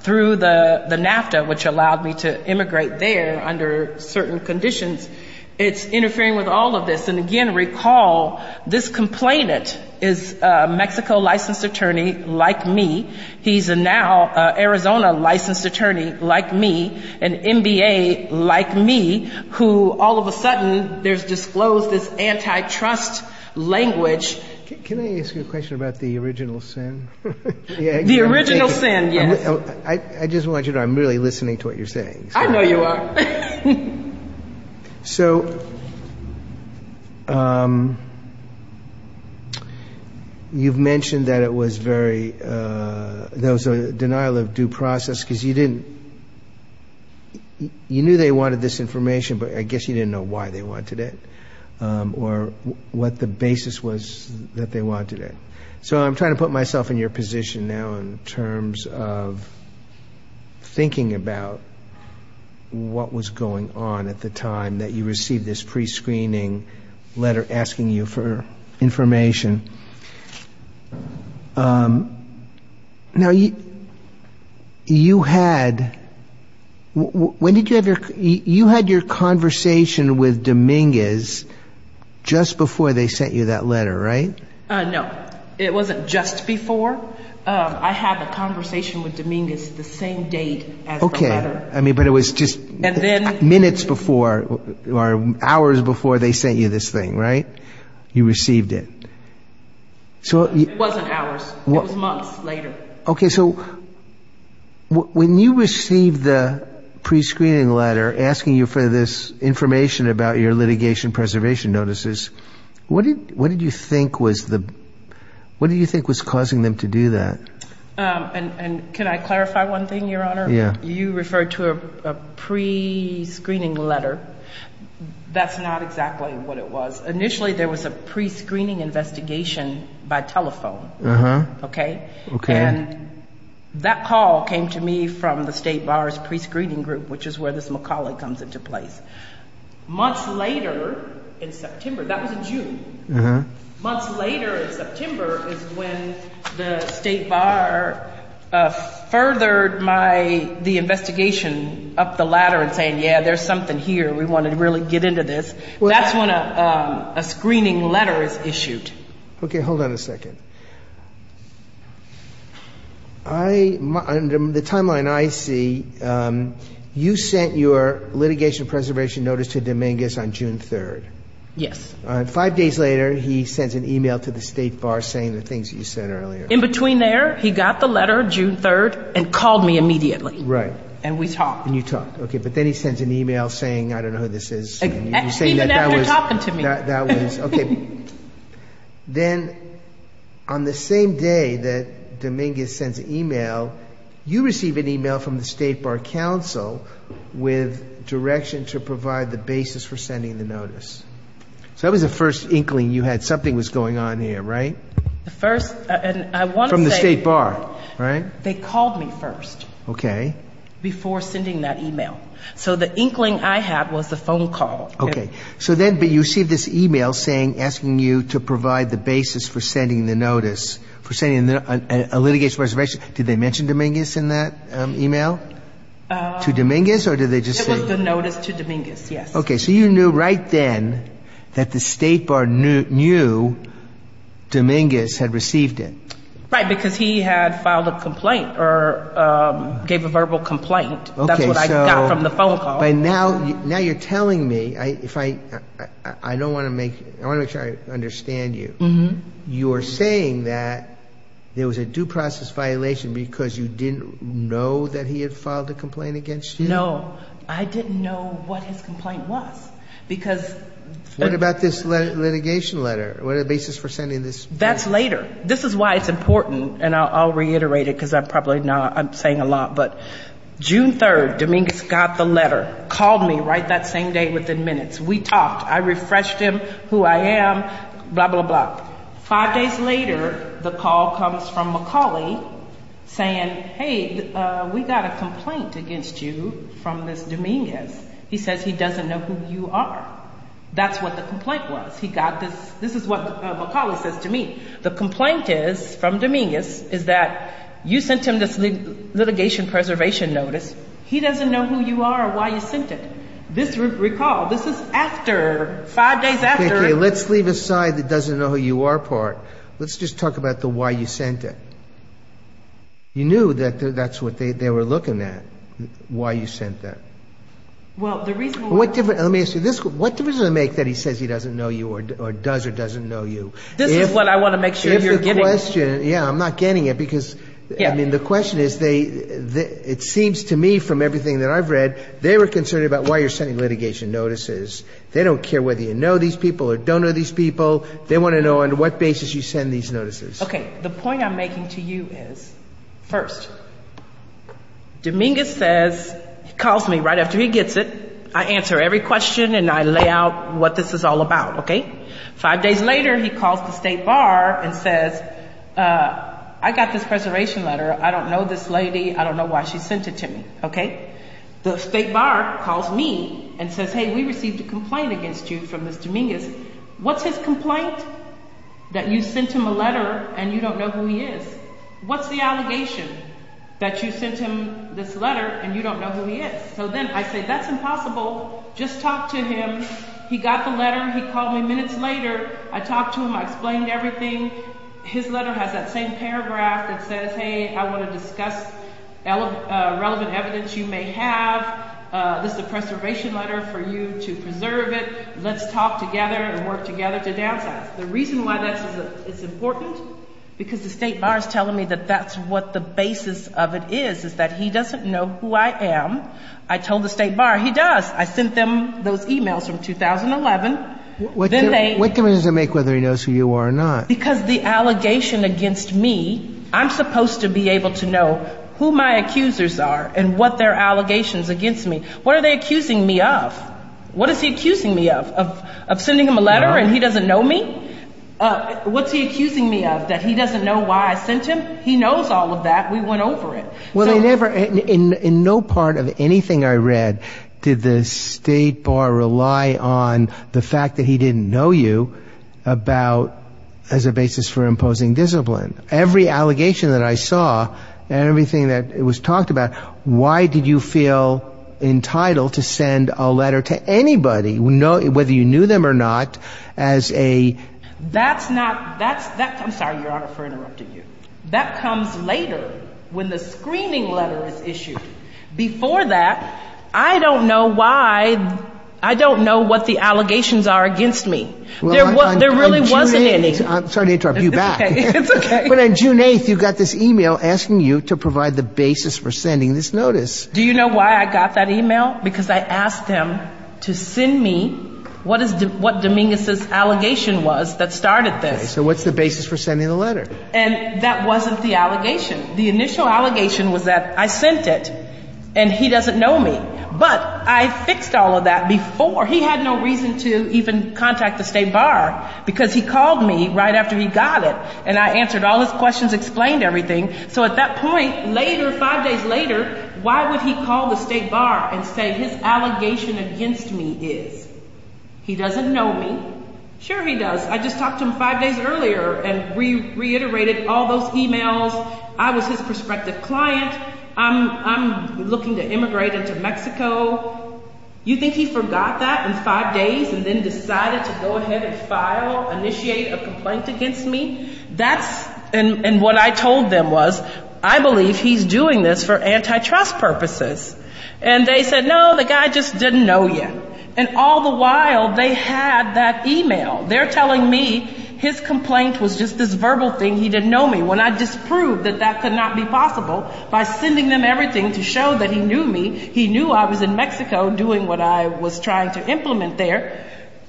through the NAFTA, which allowed me to immigrate there under certain conditions. It's interfering with all of this, and again, recall this complainant is a Mexico licensed attorney like me. He's now an Arizona licensed attorney like me, an MBA like me, who all of a sudden disclosed this antitrust language. Can I ask you a question about the original sin? The original sin, yes. I just want you to know I'm really listening to what you're saying. I know you are. So you've mentioned that it was very – there was a denial of due process because you didn't – you knew they wanted this information, but I guess you didn't know why they wanted it or what the basis was that they wanted it. So I'm trying to put myself in your position now in terms of thinking about what was going on at the time that you received this prescreening letter asking you for information. Now, you had – you had your conversation with Dominguez just before they sent you that letter, right? No. It wasn't just before. I had a conversation with Dominguez the same date as the letter. Okay. I mean, but it was just minutes before or hours before they sent you this thing, right? You received it. It wasn't hours. It was months later. Okay. So when you received the prescreening letter asking you for this information about your litigation preservation notices, what did you think was the – what do you think was causing them to do that? And can I clarify one thing, Your Honor? Yeah. You referred to a prescreening letter. That's not exactly what it was. Initially, there was a prescreening investigation by telephone, okay? Okay. And that call came to me from the State Bar's prescreening group, which is where this McCauley comes into play. Months later in September – that was in June. Months later in September is when the State Bar furthered the investigation up the ladder and saying, yeah, there's something here. We want to really get into this. That's when a screening letter is issued. Okay. Hold on a second. On the timeline I see, you sent your litigation preservation notice to Dominguez on June 3rd. Yes. Five days later, he sends an email to the State Bar saying the things that you said earlier. In between there, he got the letter June 3rd and called me immediately. Right. And we talked. And you talked. Okay. But then he sends an email saying, I don't know who this is. He said that you're talking to me. That was – okay. Then on the same day that Dominguez sends an email, you receive an email from the State Bar counsel with direction to provide the basis for sending the notice. So that was the first inkling you had something was going on here, right? The first – and I want to say – From the State Bar, right? They called me first. Okay. Before sending that email. So the inkling I had was the phone call. Okay. So then you received this email asking you to provide the basis for sending the notice, for sending a litigation preservation – did they mention Dominguez in that email? To Dominguez or did they just say – It was denoted to Dominguez, yes. Okay. So you knew right then that the State Bar knew Dominguez had received it. Right, because he had filed a complaint or gave a verbal complaint. That's what I got from the phone call. Now you're telling me – I don't want to make – I want to make sure I understand you. You're saying that there was a due process violation because you didn't know that he had filed a complaint against you? No. I didn't know what his complaint was because – What about this litigation letter? What are the basis for sending this letter? That's later. This is why it's important, and I'll reiterate it because I'm probably saying a lot, but June 3rd, Dominguez got the letter, called me right that same day within minutes. We talked. I refreshed him who I am, blah, blah, blah. Five days later, the call comes from McCauley saying, hey, we got a complaint against you from this Dominguez. He says he doesn't know who you are. That's what the complaint was. He got this – this is what McCauley says to me. The complaint is from Dominguez is that you sent him this litigation preservation notice. He doesn't know who you are or why you sent it. This was recalled. This is after – five days after – Okay, let's leave aside the doesn't know who you are part. Let's just talk about the why you sent it. You knew that that's what they were looking at, why you sent that. Well, the reason – What difference does it make that he says he doesn't know you or does or doesn't know you? This is what I want to make sure you're getting. Yeah, I'm not getting it because, I mean, the question is they – it seems to me from everything that I've read, they were concerned about why you're sending litigation notices. They don't care whether you know these people or don't know these people. They want to know on what basis you send these notices. Okay, the point I'm making to you is, first, Dominguez says – calls me right after he gets it. I answer every question and I lay out what this is all about, okay? Five days later, he calls the state bar and says, I got this federation letter. I don't know this lady. I don't know why she sent it to me, okay? The state bar calls me and says, hey, we received a complaint against you from Mr. Dominguez. What's his complaint? That you sent him a letter and you don't know who he is. What's the allegation? That you sent him this letter and you don't know who he is. So then I say, that's impossible. Just talk to him. He got the letter. He called me minutes later. I talked to him. I explained everything. His letter has that same paragraph. It says, hey, I want to discuss relevant evidence you may have. This is a preservation letter for you to preserve it. Let's talk together and work together to do that. The reason why that's important is because the state bar is telling me that that's what the basis of it is, is that he doesn't know who I am. I told the state bar he does. I sent them those e-mails from 2011. What difference does it make whether he knows who you are or not? Because the allegation against me, I'm supposed to be able to know who my accusers are and what their allegations against me. What are they accusing me of? What is he accusing me of, of sending him a letter and he doesn't know me? What's he accusing me of, that he doesn't know why I sent him? He knows all of that. We went over it. In no part of anything I read did the state bar rely on the fact that he didn't know you as a basis for imposing discipline. Every allegation that I saw, everything that was talked about, why did you feel entitled to send a letter to anybody, whether you knew them or not, as a I'm sorry, Your Honor, for interrupting you. That comes later when the screaming level is issued. Before that, I don't know why, I don't know what the allegations are against me. There really wasn't any. I'm sorry to interrupt you back. But on June 8th you got this e-mail asking you to provide the basis for sending this notice. Do you know why I got that e-mail? Because I asked him to send me what Dominguez's allegation was that started this. So what's the basis for sending the letter? And that wasn't the allegation. The initial allegation was that I sent it and he doesn't know me. But I fixed all of that before. He had no reason to even contact the state bar because he called me right after he got it and I answered all his questions, explained everything. So at that point, five days later, why would he call the state bar and say his allegation against me did? He doesn't know me. Sure he does. I just talked to him five days earlier and reiterated all those e-mails. I was his prospective client. I'm looking to immigrate him to Mexico. You think he forgot that in five days and then decided to go ahead and file, initiate a complaint against me? And what I told them was, I believe he's doing this for antitrust purposes. And they said, no, the guy just didn't know you. And all the while they had that e-mail. They're telling me his complaint was just this verbal thing. He didn't know me. When I disproved that that could not be possible by sending them everything to show that he knew me, he knew I was in Mexico doing what I was trying to implement there,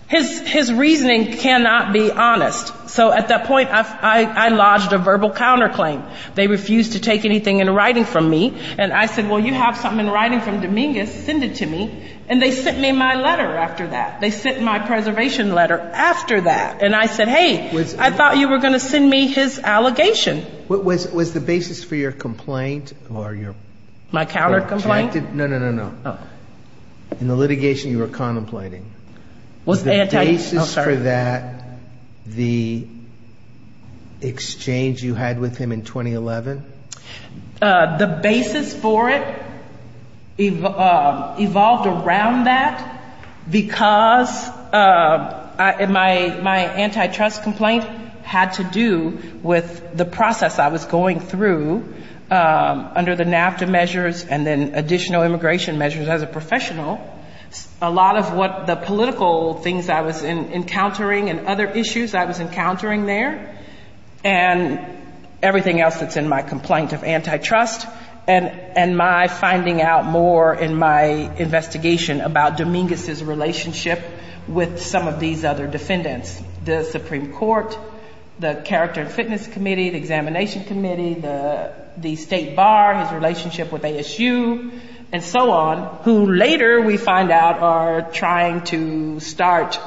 his reasoning cannot be honest. So at that point I lodged a verbal counterclaim. They refused to take anything in writing from me. And I said, well, you have something in writing from Dominguez. Send it to me. And they sent me my letter after that. They sent my preservation letter after that. And I said, hey, I thought you were going to send me his allegation. Was the basis for your complaint? My counter complaint? No, no, no, no. In the litigation you were contemplating. Was the basis for that the exchange you had with him in 2011? The basis for it evolved around that because my antitrust complaint had to do with the process I was going through under the NAFTA measures and then additional immigration measures as a professional. A lot of what the political things I was encountering and other issues I was encountering there and everything else that's in my complaint of antitrust and my finding out more in my investigation about Dominguez's relationship with some of these other defendants, the Supreme Court, the Character and Fitness Committee, the Examination Committee, the State Bar, his relationship with ASU and so on, who later we find out are trying to start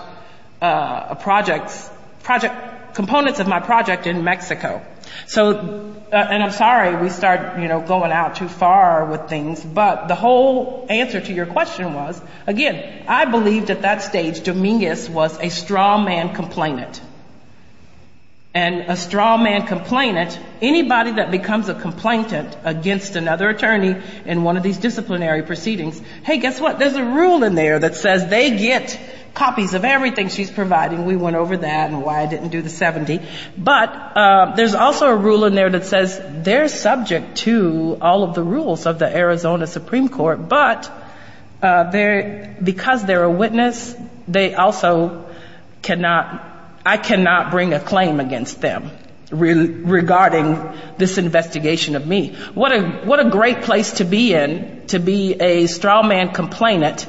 a project, components of my project in Mexico. And I'm sorry we started going out too far with things, but the whole answer to your question was, again, I believe at that stage Dominguez was a straw man complainant. And a straw man complainant, anybody that becomes a complainant against another attorney in one of these disciplinary proceedings, hey, guess what? There's a rule in there that says they get copies of everything she's providing. We went over that and why I didn't do the 70. But there's also a rule in there that says they're subject to all of the rules of the Arizona Supreme Court, but because they're a witness, I cannot bring a claim against them regarding this investigation of me. What a great place to be in to be a straw man complainant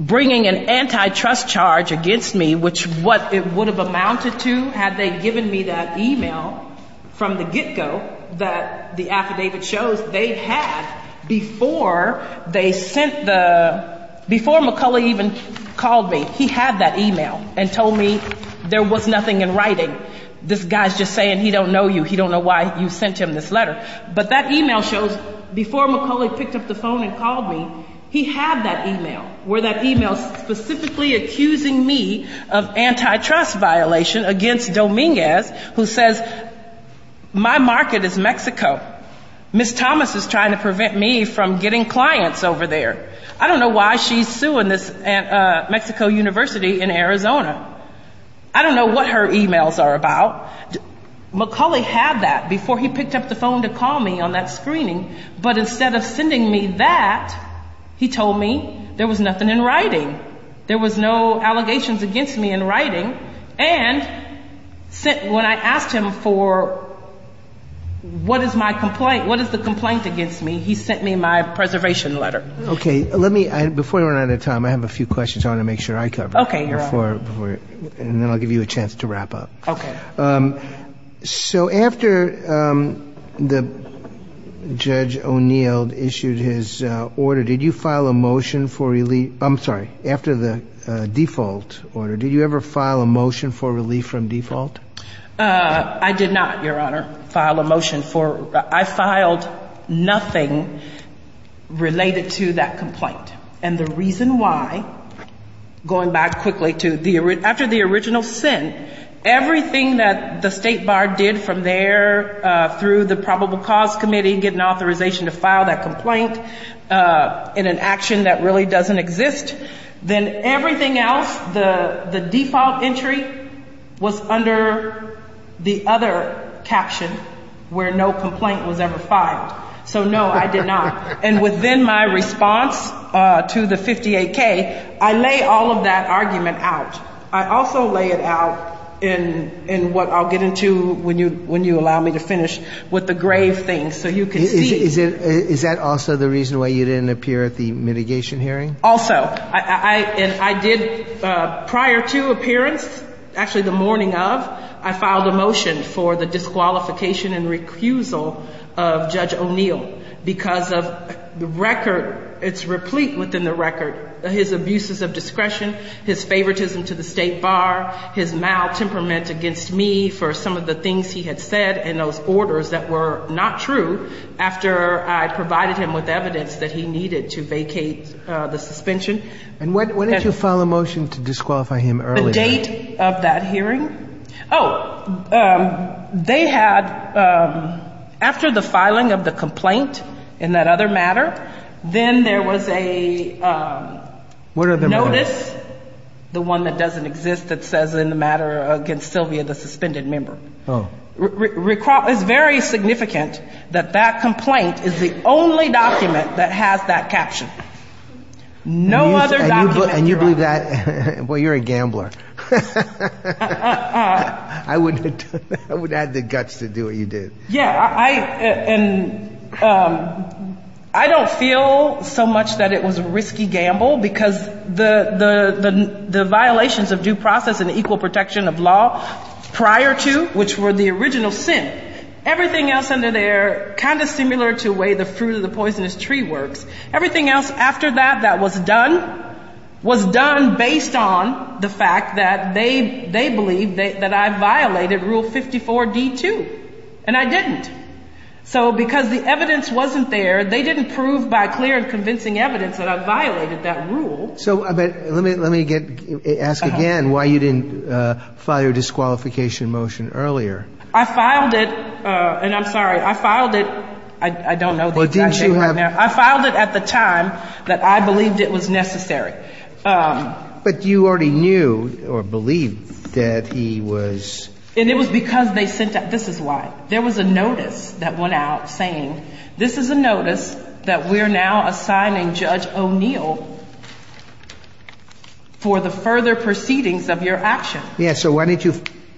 bringing an antitrust charge against me, which what it would have amounted to had they given me that email from the get-go, that the affidavit shows they had before they sent the—before McCulley even called me. He had that email and told me there was nothing in writing. This guy's just saying he don't know you. He don't know why you sent him this letter. But that email shows before McCulley picked up the phone and called me, he had that email, where that email specifically accusing me of antitrust violation against Dominguez, who says my market is Mexico. Ms. Thomas is trying to prevent me from getting clients over there. I don't know why she's suing this Mexico University in Arizona. I don't know what her emails are about. McCulley had that before he picked up the phone to call me on that screening, but instead of sending me that, he told me there was nothing in writing. And when I asked him for what is my complaint, what is the complaint against me, he sent me my preservation letter. Okay, let me—before we run out of time, I have a few questions I want to make sure I cover. Okay. And then I'll give you a chance to wrap up. Okay. So after Judge O'Neill issued his order, did you file a motion for—I'm sorry, after the default order, did you ever file a motion for relief from default? I did not, Your Honor, file a motion for—I filed nothing related to that complaint. And the reason why, going back quickly to—after the original sin, everything that the State Bar did from there through the Probable Cause Committee, getting authorization to file that complaint in an action that really doesn't exist, then everything else, the default entry was under the other caption where no complaint was ever filed. So no, I did not. And within my response to the 58K, I lay all of that argument out. I also lay it out in what I'll get into when you allow me to finish with the grave thing. So you can see— Is that also the reason why you didn't appear at the mitigation hearing? Also, I did—prior to appearance, actually the morning of, I filed a motion for the disqualification and recusal of Judge O'Neill because of the record. It's replete within the record, his abuses of discretion, his favoritism to the State Bar, his maltemperment against me for some of the things he had said and those orders that were not true after I provided him with evidence that he needed to vacate the suspension. And when did you file a motion to disqualify him early? The date of that hearing? Oh, they had—after the filing of the complaint in that other matter, then there was a notice— What other matter? The one that doesn't exist that says in the matter against Sylvia, the suspended member. Oh. It's very significant that that complaint is the only document that has that caption. No other document— And you believe that—well, you're a gambler. I would add the guts to do what you did. Yeah, and I don't feel so much that it was a risky gamble because the violations of due process and equal protection of law prior to, which were the original sin, everything else under there, kind of similar to the way the fruit of the poisonous tree works, everything else after that that was done, was done based on the fact that they believed that I violated Rule 54-D-2. And I didn't. So because the evidence wasn't there, they didn't prove by clear and convincing evidence that I violated that rule. So let me ask again why you didn't file your disqualification motion earlier. I filed it—and I'm sorry, I filed it—I don't know the exact date right now. Well, didn't you have— I filed it at the time that I believed it was necessary. But you already knew or believed that he was— And it was because they said that—this is why. For the further proceedings of your actions. Yeah, so why didn't you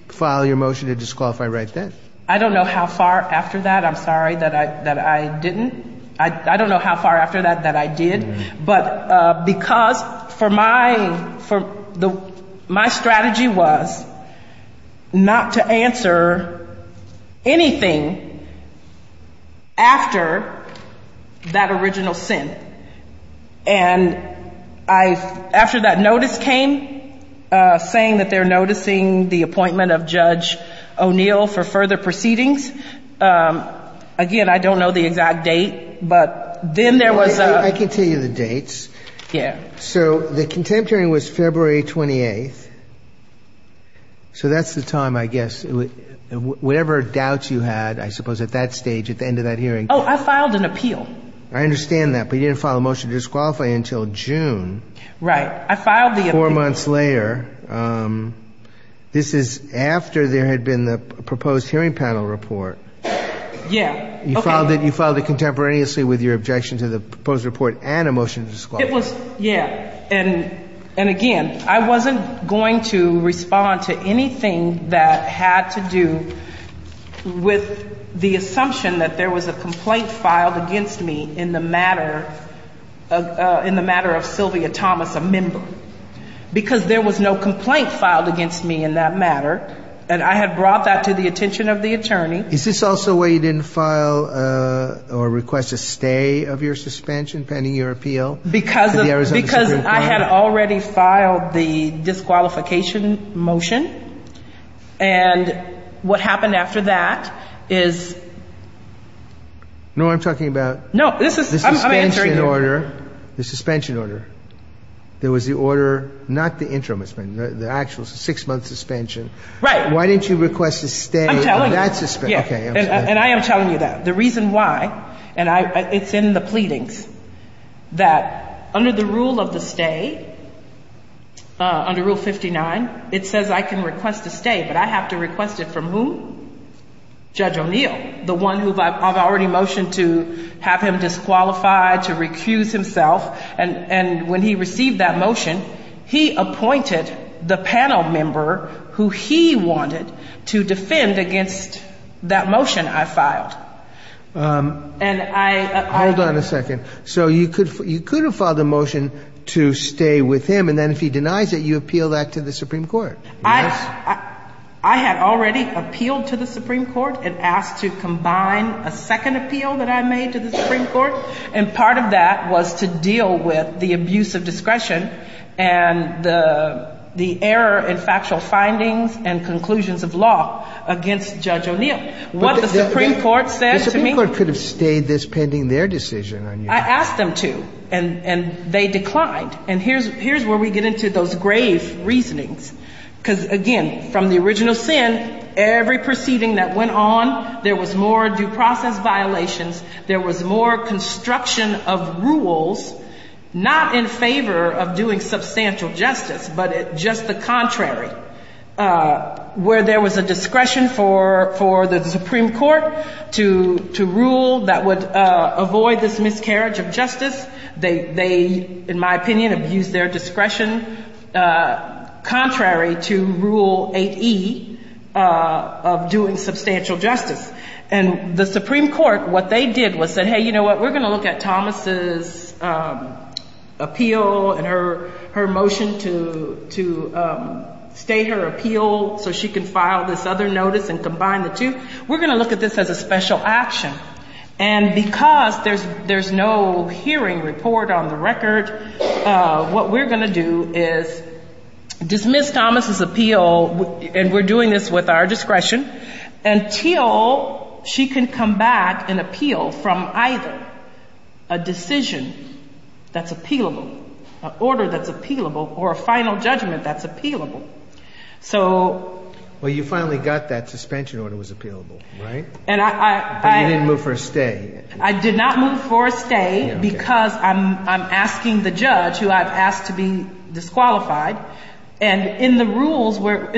file your motion to disqualify right then? I don't know how far after that. I'm sorry that I didn't. I don't know how far after that that I did. But because for my—my strategy was not to answer anything after that original sin. And I—after that notice came, saying that they're noticing the appointment of Judge O'Neill for further proceedings, again, I don't know the exact date. But then there was a— I can tell you the dates. Yeah. So the contempt hearing was February 28th. So that's the time, I guess. Whatever doubts you had, I suppose, at that stage, at the end of that hearing. Oh, I filed an appeal. I understand that. But you didn't file a motion to disqualify until June. Right. I filed the— Four months later. This is after there had been the proposed hearing panel report. Yeah. You filed it contemporaneously with your objection to the proposed report and a motion to disqualify. It was—yeah. And again, I wasn't going to respond to anything that had to do with the assumption that there was a complaint filed against me in the matter of Sylvia Thomas, a member. Because there was no complaint filed against me in that matter. And I have brought that to the attention of the attorney. Is this also why you didn't file or request a stay of your suspension pending your appeal? Because I had already filed the disqualification motion. And what happened after that is— No, I'm talking about— No, this is—I'm answering you. The suspension order. There was the order—not the interim suspension, the actual six-month suspension. Right. Why didn't you request a stay of that suspension? Yes. And I am telling you that. The reason why—and it's in the pleadings—that under the rule of the stay, under Rule 59, it says I can request a stay. But I have to request it from whom? Judge O'Neill, the one who I've already motioned to have him disqualified, to recuse himself. And when he received that motion, he appointed the panel member who he wanted to defend against that motion I filed. Hold on a second. So you could have filed a motion to stay with him, and then if he denies it, you appeal that to the Supreme Court. I had already appealed to the Supreme Court and asked to combine a second appeal that I made to the Supreme Court. And part of that was to deal with the abuse of discretion and the error in factual findings and conclusions of law against Judge O'Neill. What the Supreme Court said to me— But the Supreme Court could have stayed this pending their decision on you. I asked them to, and they declined. And here's where we get into those grave reasonings. Because, again, from the original sin, every proceeding that went on, there was more due process violations, there was more construction of rules not in favor of doing substantial justice, but just the contrary, where there was a discretion for the Supreme Court to rule that would avoid this miscarriage of justice. They, in my opinion, abused their discretion contrary to Rule 8E of doing substantial justice. And the Supreme Court, what they did was say, hey, you know what, we're going to look at Thomas' appeal and her motion to stay her appeal so she can file this other notice and combine the two. We're going to look at this as a special action. And because there's no hearing report on the record, what we're going to do is dismiss Thomas' appeal, and we're doing this with our discretion, until she can come back and appeal from either a decision that's appealable, an order that's appealable, or a final judgment that's appealable. Well, you finally got that suspension order was appealable, right? And you didn't move for a stay. I did not move for a stay because I'm asking the judge, who I've asked to be disqualified. And in the rule where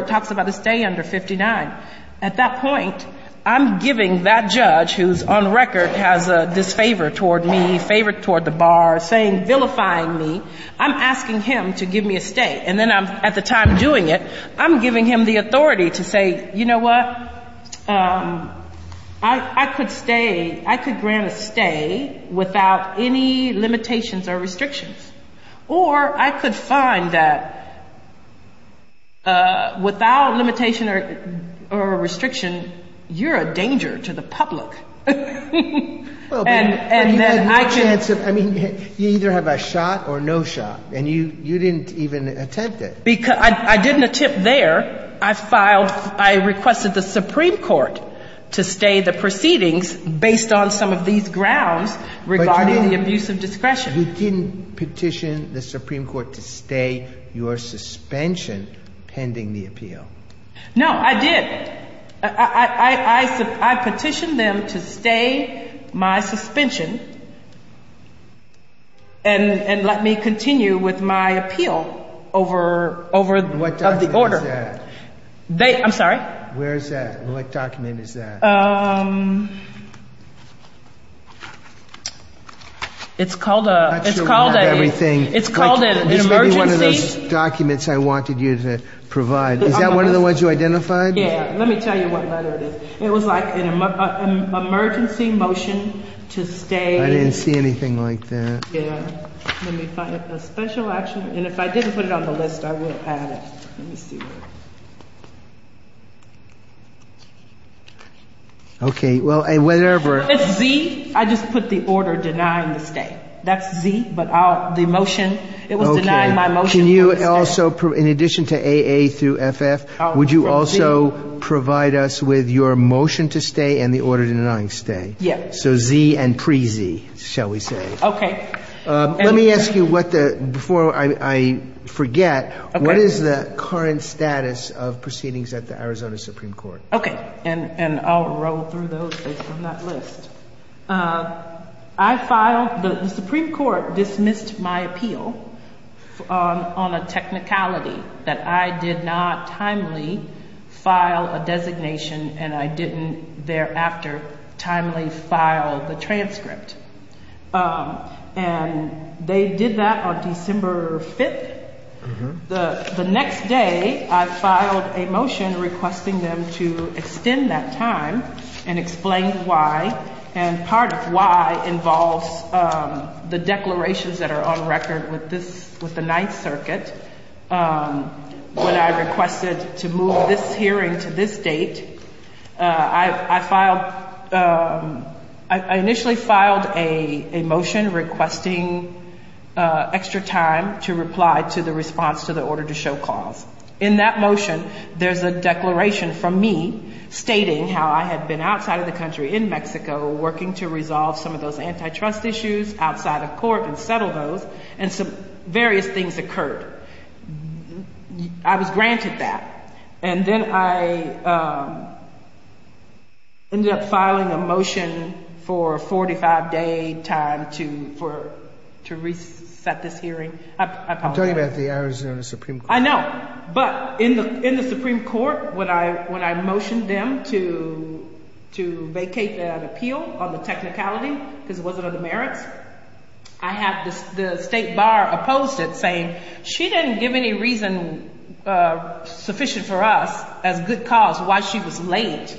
it talks about a stay under 59, at that point, I'm giving that judge, who on the record has disfavored toward me, favored toward the bar, saying, vilifying me, I'm asking him to give me a stay. And then at the time of doing it, I'm giving him the authority to say, you know what, I could grant a stay without any limitations or restrictions. Or I could find that without a limitation or a restriction, you're a danger to the public. And then I can't. I mean, you either have a shot or no shot, and you didn't even attempt it. I didn't attempt there. I requested the Supreme Court to stay the proceedings based on some of these grounds regarding the abuse of discretion. You didn't petition the Supreme Court to stay your suspension pending the appeal. No, I did. I petitioned them to stay my suspension and let me continue with my appeal over the order. What document is that? I'm sorry? Where is that? What document is that? It's called an emergency. It's probably one of those documents I wanted you to provide. Is that one of the ones you identified? Yeah, let me tell you what letter it is. It was like an emergency motion to stay. I didn't see anything like that. Let me find a special action. And if I didn't put it on the list, I would add it. Okay, well, whatever. It's Z. I just put the order denying the stay. That's Z, but the motion, it was denying my motion. Can you also, in addition to AA through FF, would you also provide us with your motion to stay and the order denying stay? Yes. So Z and pre-Z, shall we say. Okay. Let me ask you, before I forget, what is the current status of proceedings at the Arizona Supreme Court? Okay, and I'll roll through those. They do not list. I filed, the Supreme Court dismissed my appeal on a technicality. That I did not timely file a designation and I didn't thereafter timely file the transcript. And they did that on December 5th. The next day, I filed a motion requesting them to extend that time and explain why. And part of why involves the declarations that are on record with the Ninth Circuit. When I requested to move this hearing to this date, I filed, I initially filed a motion requesting extra time to reply to the response to the order to show cause. In that motion, there's a declaration from me stating how I had been outside of the country in Mexico working to resolve some of those antitrust issues outside of court and settle those. And some various things occurred. I was granted that. And then I ended up filing a motion for a 45-day time to reset this hearing. I'm talking about the Arizona Supreme Court. I know. But in the Supreme Court, when I motioned them to vacate that appeal on the technicality because it wasn't of merit, I had the State Bar oppose it saying she didn't give any reason sufficient for us as good cause why she was late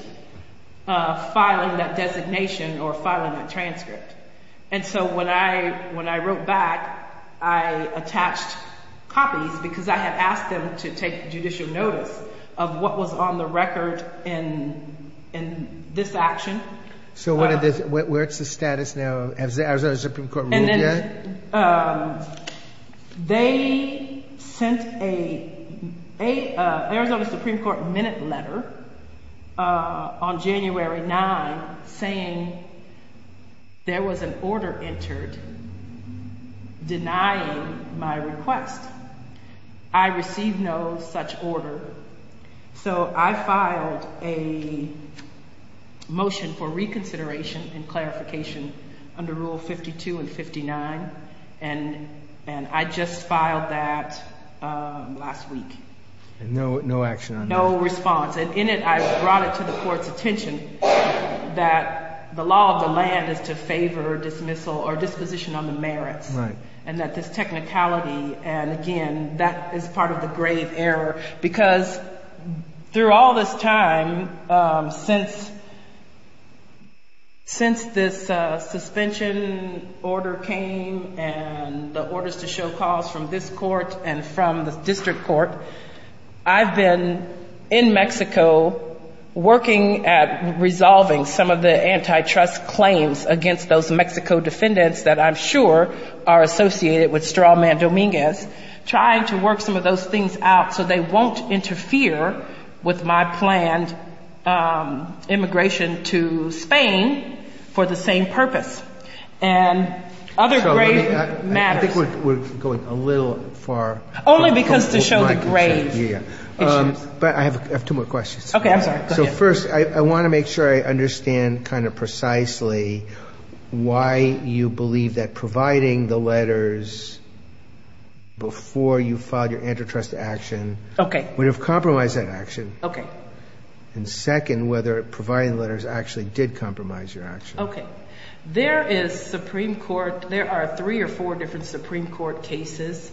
filing that designation or filing that transcript. And so when I wrote back, I attached copies because I had asked them to take judicial notice of what was on the record in this action. So what's the status now? Has the Arizona Supreme Court ruled yet? They sent a Arizona Supreme Court minute letter on January 9th saying there was an order entered denying my request. I received no such order. So I filed a motion for reconsideration and clarification under Rule 52 and 59. And I just filed that last week. And no action on that? No response. And in it, I brought it to the court's attention that the law of the land is to favor dismissal or disposition on the merit. Right. And that this technicality and, again, that is part of the grave error because through all this time, since this suspension order came and the orders to show cause from this court and from the district court, I've been in Mexico working at resolving some of the antitrust claims against those Mexico defendants that I'm sure are associated with straw man Dominguez, trying to work some of those things out so they won't interfere with my planned immigration to Spain for the same purpose. And other grave matters. I think we're going a little far. Only because of the show of the grave. Yeah. But I have two more questions. Okay. So first, I want to make sure I understand kind of precisely why you believe that providing the letters before you filed your antitrust action would have compromised that action. Okay. And second, whether providing letters actually did compromise your action. Okay. There are three or four different Supreme Court cases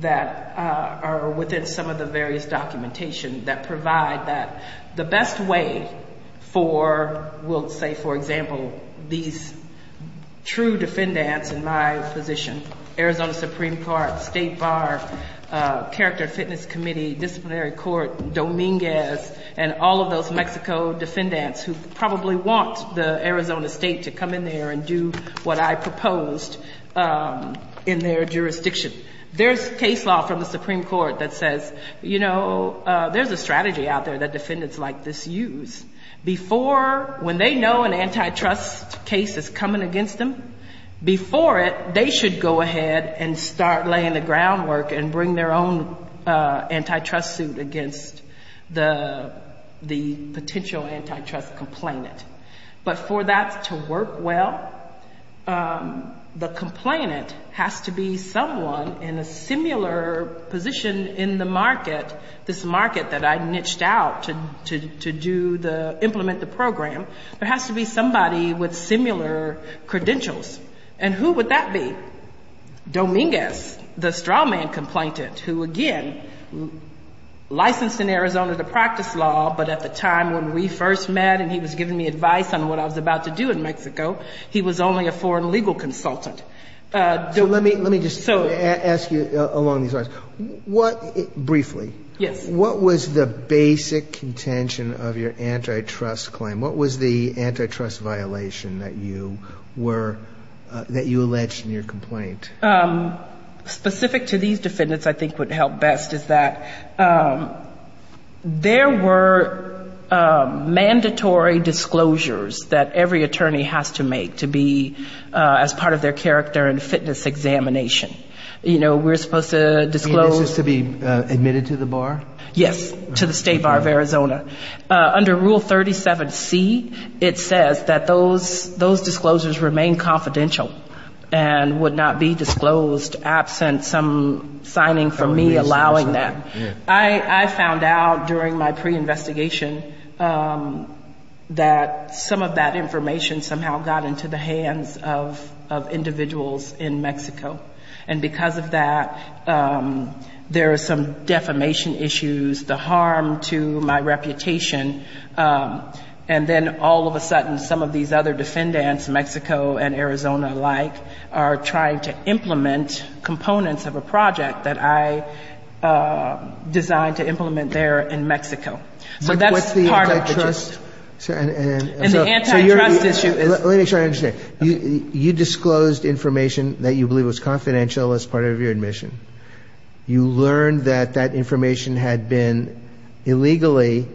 that are within some of the various documentation that provide that the best way for, we'll say, for example, these true defendants in my position, Arizona Supreme Court, State Bar, Character Fitness Committee, Disciplinary Court, Dominguez, and all of those Mexico defendants who probably want the Arizona State to come in there and do what I proposed in their jurisdiction. There's case law from the Supreme Court that says, you know, there's a strategy out there that defendants like this use. Before, when they know an antitrust case is coming against them, before it, they should go ahead and start laying the groundwork and bring their own antitrust suit against the potential antitrust complainant. But for that to work well, the complainant has to be someone in a similar position in the market, this market that I niched out to implement the program, but has to be somebody with similar credentials. And who would that be? Dominguez, the straw man complainant, who, again, licensed in Arizona the practice law, but at the time when we first met and he was giving me advice on what I was about to do in Mexico, he was only a foreign legal consultant. So let me just ask you along these lines. Briefly, what was the basic intention of your antitrust claim? What was the antitrust violation that you alleged in your complaint? Specific to these defendants I think would help best is that there were mandatory disclosures that every attorney has to make to be as part of their character and fitness examination. You know, we're supposed to disclose. To be admitted to the bar? Yes, to the State Bar of Arizona. Under Rule 37C, it says that those disclosures remain confidential and would not be disclosed absent some signing from me allowing that. I found out during my pre-investigation that some of that information somehow got into the hands of individuals in Mexico. And because of that, there are some defamation issues, the harm to my reputation, and then all of a sudden some of these other defendants, Mexico and Arizona alike, are trying to implement components of a project that I designed to implement there in Mexico. And the antitrust issue. Let me try to understand. You disclosed information that you believe was confidential as part of your admission. You learned that that information had been illegally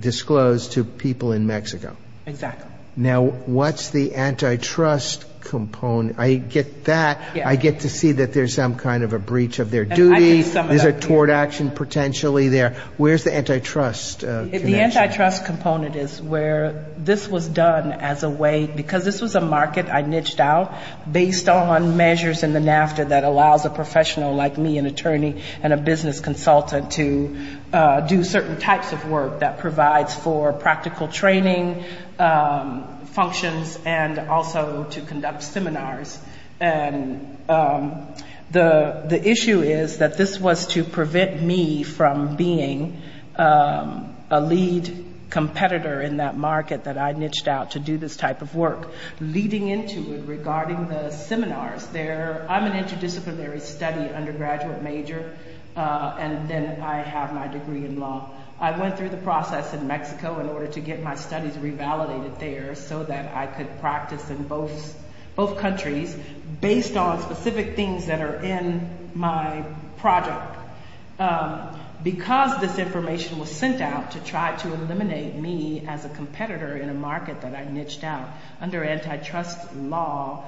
disclosed to people in Mexico. Exactly. Now, what's the antitrust component? I get that. I get to see that there's some kind of a breach of their duty. There's a tort action potentially there. Where's the antitrust? The antitrust component is where this was done as a way, because this was a market I niched out, based on measures in the NAFTA that allows a professional like me, an attorney and a business consultant, to do certain types of work that provides for practical training functions and also to conduct seminars. And the issue is that this was to prevent me from being a lead competitor in that market that I niched out to do this type of work. Leading into it, regarding the seminars, I'm an interdisciplinary study undergraduate major, and then I have my degree in law. I went through the process in Mexico in order to get my studies revalidated there so that I could practice in both countries, based on specific things that are in my project. Because this information was sent out to try to eliminate me as a competitor in a market that I niched out, under antitrust law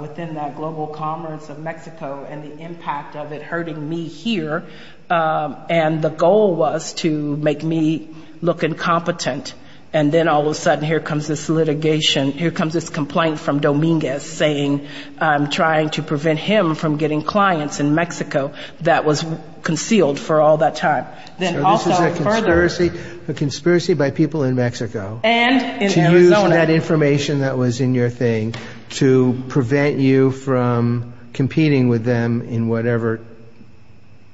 within the global commerce of Mexico and the impact of it hurting me here, and the goal was to make me look incompetent. And then all of a sudden, here comes this litigation, here comes this complaint from Dominguez, saying I'm trying to prevent him from getting clients in Mexico that was concealed for all that time. This is a conspiracy by people in Mexico. To use that information that was in your thing to prevent you from competing with them in whatever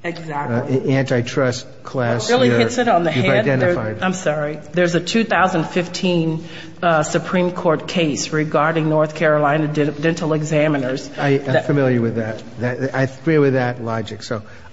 antitrust class you've identified. There's a 2015 Supreme Court case regarding North Carolina dental examiners. I'm familiar with that. I agree with that logic.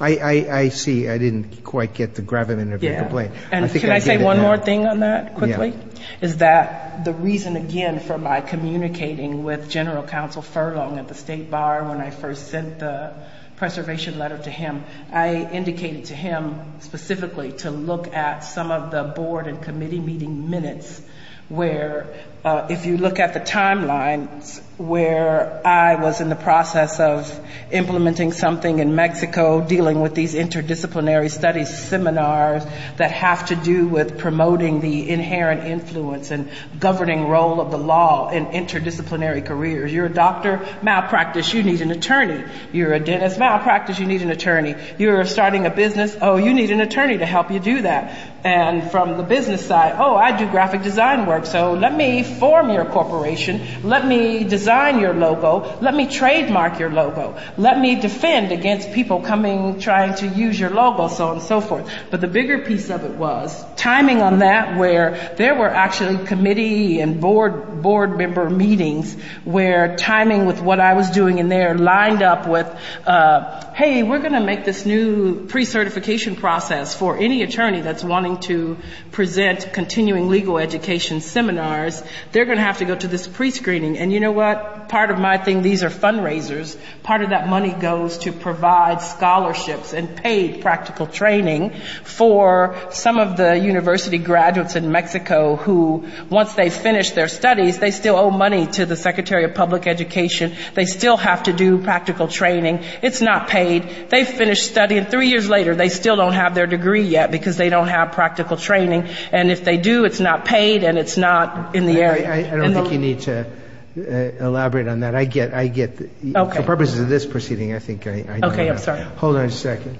I see. I didn't quite get the gravity of the complaint. Can I say one more thing on that quickly? Yes. Is that the reason, again, for my communicating with General Counsel Furlong at the State Bar when I first sent the preservation letter to him, I indicated to him specifically to look at some of the board and committee meeting minutes where, if you look at the timeline where I was in the process of implementing something in Mexico, dealing with these interdisciplinary studies seminars that have to do with promoting the inherent influence and governing role of the law in interdisciplinary careers. You're a doctor? Malpractice. You need an attorney. You're a dentist? Malpractice. You need an attorney. You're starting a business? Oh, you need an attorney to help you do that. And from the business side, oh, I do graphic design work, so let me form your corporation. Let me design your logo. Let me trademark your logo. Let me defend against people coming and trying to use your logo, so on and so forth. But the bigger piece of it was timing on that where there were actually committee and board member meetings where timing with what I was doing in there lined up with, hey, we're going to make this new pre-certification process for any attorney that's wanting to present continuing legal education seminars. They're going to have to go to this pre-screening. And you know what? Part of my thing, these are fundraisers. Part of that money goes to provide scholarships and paid practical training for some of the university graduates in Mexico who, once they finish their studies, they still owe money to the Secretary of Public Education. They still have to do practical training. It's not paid. They finish studying. Three years later, they still don't have their degree yet because they don't have practical training. And if they do, it's not paid and it's not in the area. I don't think you need to elaborate on that. For purposes of this proceeding, I think I get it. Hold on a second.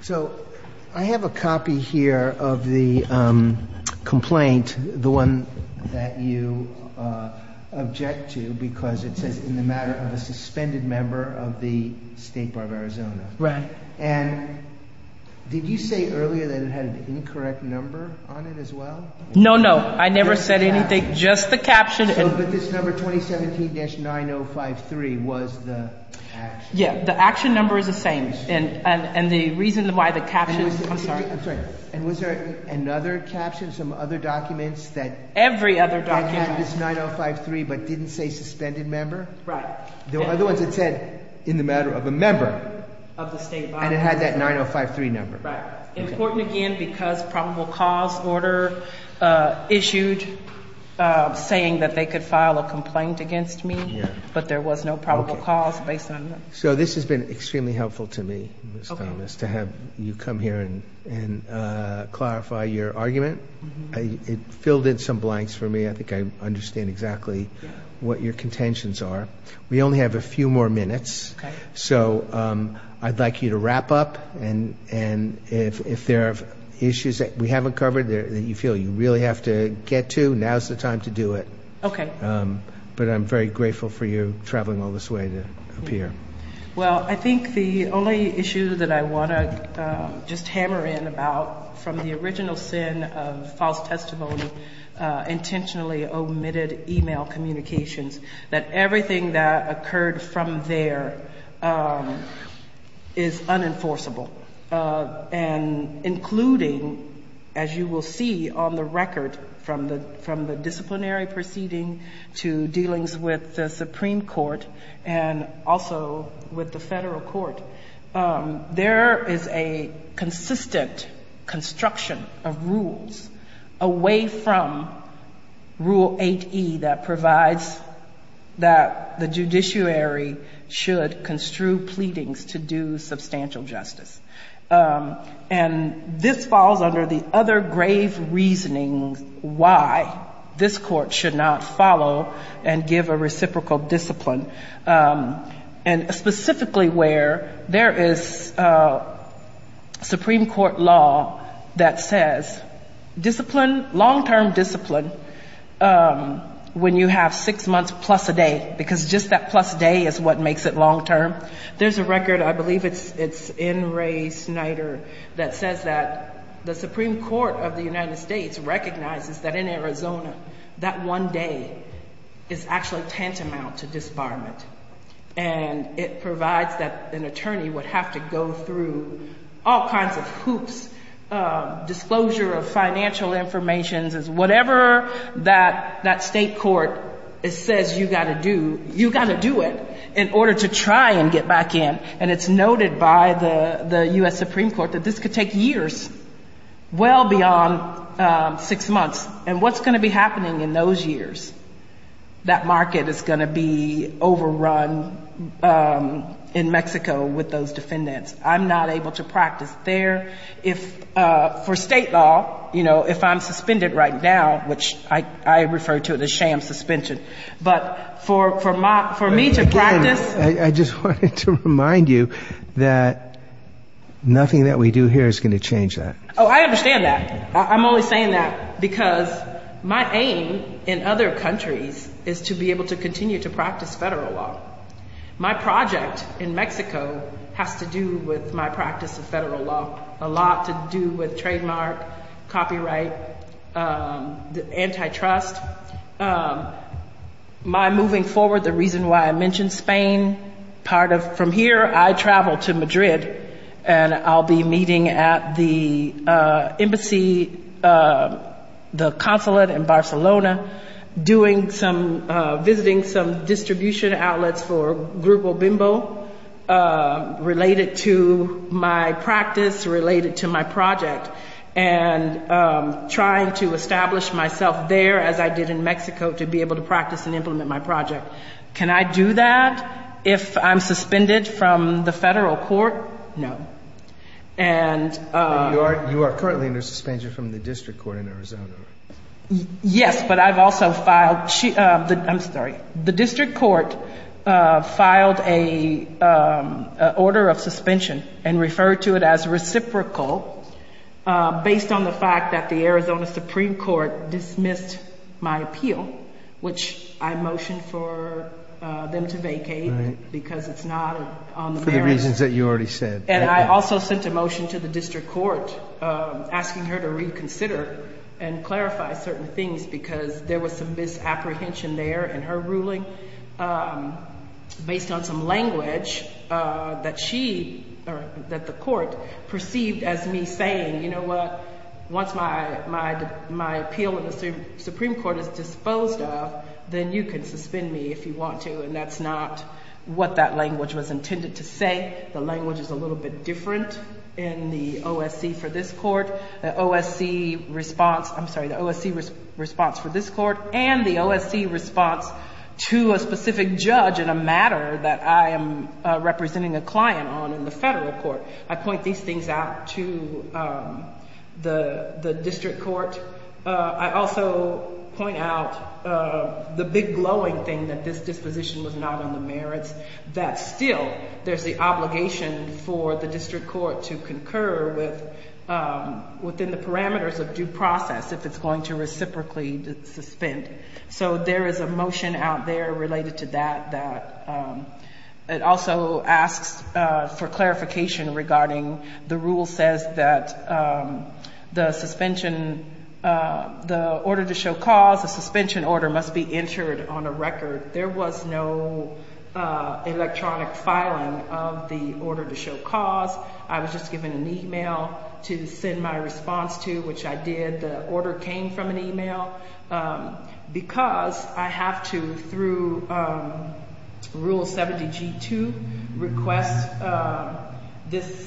So I have a copy here of the complaint, the one that you object to, because it says in the matter of a suspended member of the State Bar of Arizona. Right. And did you say earlier that it had an incorrect number on it as well? No, no. I never said anything. Just the caption. But this number, 2017-9053, was the action number. Yes, the action number is the same. And the reason why the caption… And was there another caption, some other documents that… Every other document. …had this 9053 but didn't say suspended member? Right. Otherwise, it said in the matter of a member of the State Bar and it had that 9053 number. Right. It's important, again, because probable cause order issued saying that they could file a complaint against me, but there was no probable cause based on that. So this has been extremely helpful to me, Ms. Thomas, to have you come here and clarify your argument. It filled in some blanks for me. I think I understand exactly what your contentions are. We only have a few more minutes. Okay. So I'd like you to wrap up. And if there are issues that we haven't covered that you feel you really have to get to, now's the time to do it. Okay. But I'm very grateful for you traveling all this way to appear. Well, I think the only issue that I want to just hammer in about, from the original sin of false testimony, intentionally omitted email communications, that everything that occurred from there is unenforceable. And including, as you will see on the record from the disciplinary proceeding to dealings with the Supreme Court and also with the federal court, there is a consistent construction of rules away from Rule 8E that provides that the judiciary should construe pleadings to do substantial justice. And this falls under the other grave reasoning why this court should not follow and give a reciprocal discipline. And specifically where there is Supreme Court law that says, discipline, long-term discipline, when you have six months plus a day, because just that plus a day is what makes it long-term. There's a record, I believe it's in Ray Snyder, that says that the Supreme Court of the United States recognizes that in Arizona, that one day is actually tantamount to disbarment. And it provides that an attorney would have to go through all kinds of hoops. Disclosure of financial information is whatever that state court says you've got to do, you've got to do it in order to try and get back in. And it's noted by the U.S. Supreme Court that this could take years, well beyond six months. And what's going to be happening in those years? That market is going to be overrun in Mexico with those defendants. I'm not able to practice there. For state law, you know, if I'm suspended right now, which I refer to as a sham suspension, but for me to practice— I just wanted to remind you that nothing that we do here is going to change that. Oh, I understand that. I'm only saying that because my aim in other countries is to be able to continue to practice federal law. My project in Mexico has to do with my practice of federal law, a lot to do with trademark, copyright, antitrust. My moving forward, the reason why I mention Spain, part of—from here I travel to Madrid and I'll be meeting at the embassy, the consulate in Barcelona, doing some—visiting some distribution outlets for Grupo Bimbo related to my practice, related to my project, and trying to establish myself there as I did in Mexico to be able to practice and implement my project. Can I do that if I'm suspended from the federal court? No. You are currently under suspension from the district court in Arizona. Yes, but I've also filed—I'm sorry. The district court filed an order of suspension and referred to it as reciprocal based on the fact that the Arizona Supreme Court dismissed my appeal, which I motioned for them to vacate because it's not on the merits. For the reasons that you already said. And I also sent a motion to the district court asking her to reconsider and clarify certain things because there was some misapprehension there in her ruling based on some language that she—that the court perceived as me saying, you know what, once my appeal in the Supreme Court is disposed of, then you can suspend me if you want to. And that's not what that language was intended to say. The language is a little bit different in the OSC for this court. The OSC response—I'm sorry, the OSC response for this court and the OSC response to a specific judge in a matter that I am representing a client on in the federal court. I point these things out to the district court. I also point out the big glowing thing that this disposition was not on the merits, that still there's the obligation for the district court to concur within the parameters of due process if it's going to reciprocally suspend. So there is a motion out there related to that that also asks for clarification regarding the rule says that the suspension—the order to show cause, the suspension order must be entered on a record. There was no electronic filing of the order to show cause. I was just given an email to send my response to, which I did. The order came from an email because I have to, through Rule 70G2, request this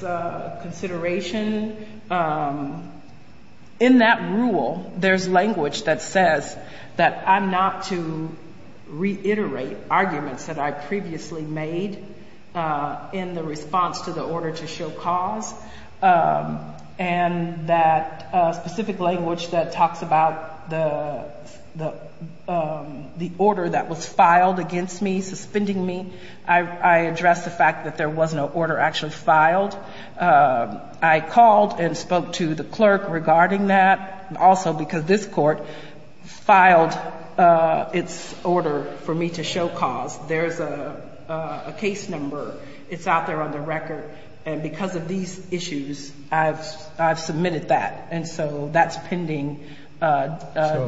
consideration. In that rule, there's language that says that I'm not to reiterate arguments that I previously made in the response to the order to show cause, and that specific language that talks about the order that was filed against me, suspending me. I addressed the fact that there was no order actually filed. I called and spoke to the clerk regarding that, also because this court filed its order for me to show cause. There's a case number. It's out there on the record. And because of these issues, I've submitted that. And so that's pending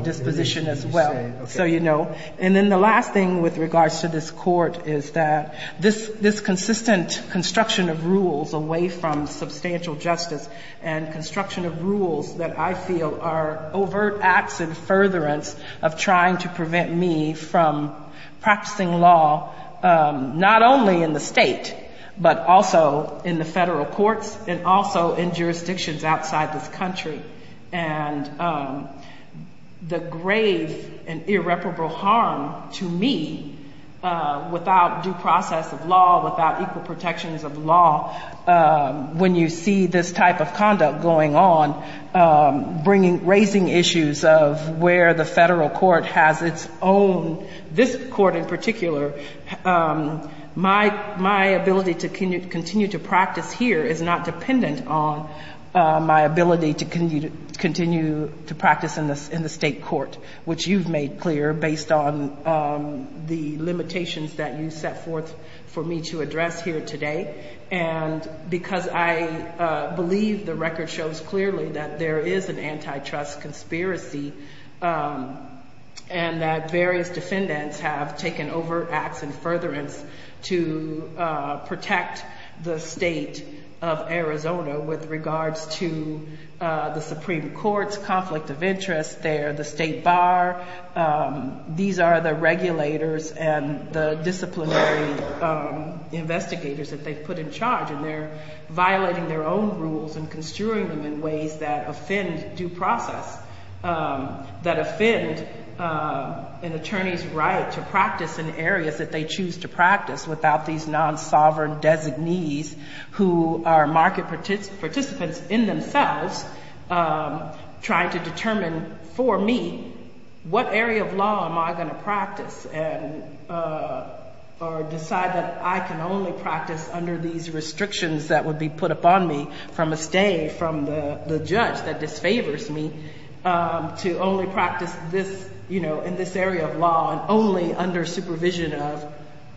disposition as well. So, you know. And then the last thing with regards to this court is that this consistent construction of rules away from substantial justice and construction of rules that I feel are overt acts and furtherance of trying to prevent me from practicing law, not only in the state, but also in the federal courts and also in jurisdictions outside this country. And the grave and irreparable harm to me without due process of law, without equal protections of law, when you see this type of conduct going on, raising issues of where the federal court has its own, this court in particular, my ability to continue to practice here is not dependent on my ability to continue to practice in the state court, which you've made clear based on the limitations that you set forth for me to address here today. And because I believe the record shows clearly that there is an antitrust conspiracy and that various defendants have taken overt acts and furtherance to protect the state of Arizona with regards to the Supreme Court's conflict of interest there, the state bar. These are the regulators and the disciplinary investigators that they've put in charge, and they're violating their own rules and construing them in ways that offend due process, that offend an attorney's right to practice in areas that they choose to practice without these non-sovereign designees who are market participants in themselves trying to determine for me what area of law am I going to practice or decide that I can only practice under these restrictions that will be put upon me from a stay from the judge that disfavors me to only practice in this area of law only under supervision of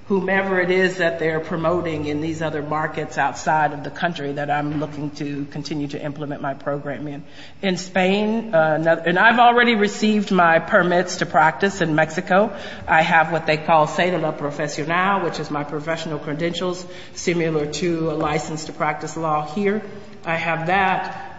whomever it is that they're promoting in these other markets outside of the country that I'm looking to continue to implement my program in. In Spain, and I've already received my permits to practice in Mexico, I have what they call CEDLA Profesional, which is my professional credentials, similar to a license to practice law here. I have that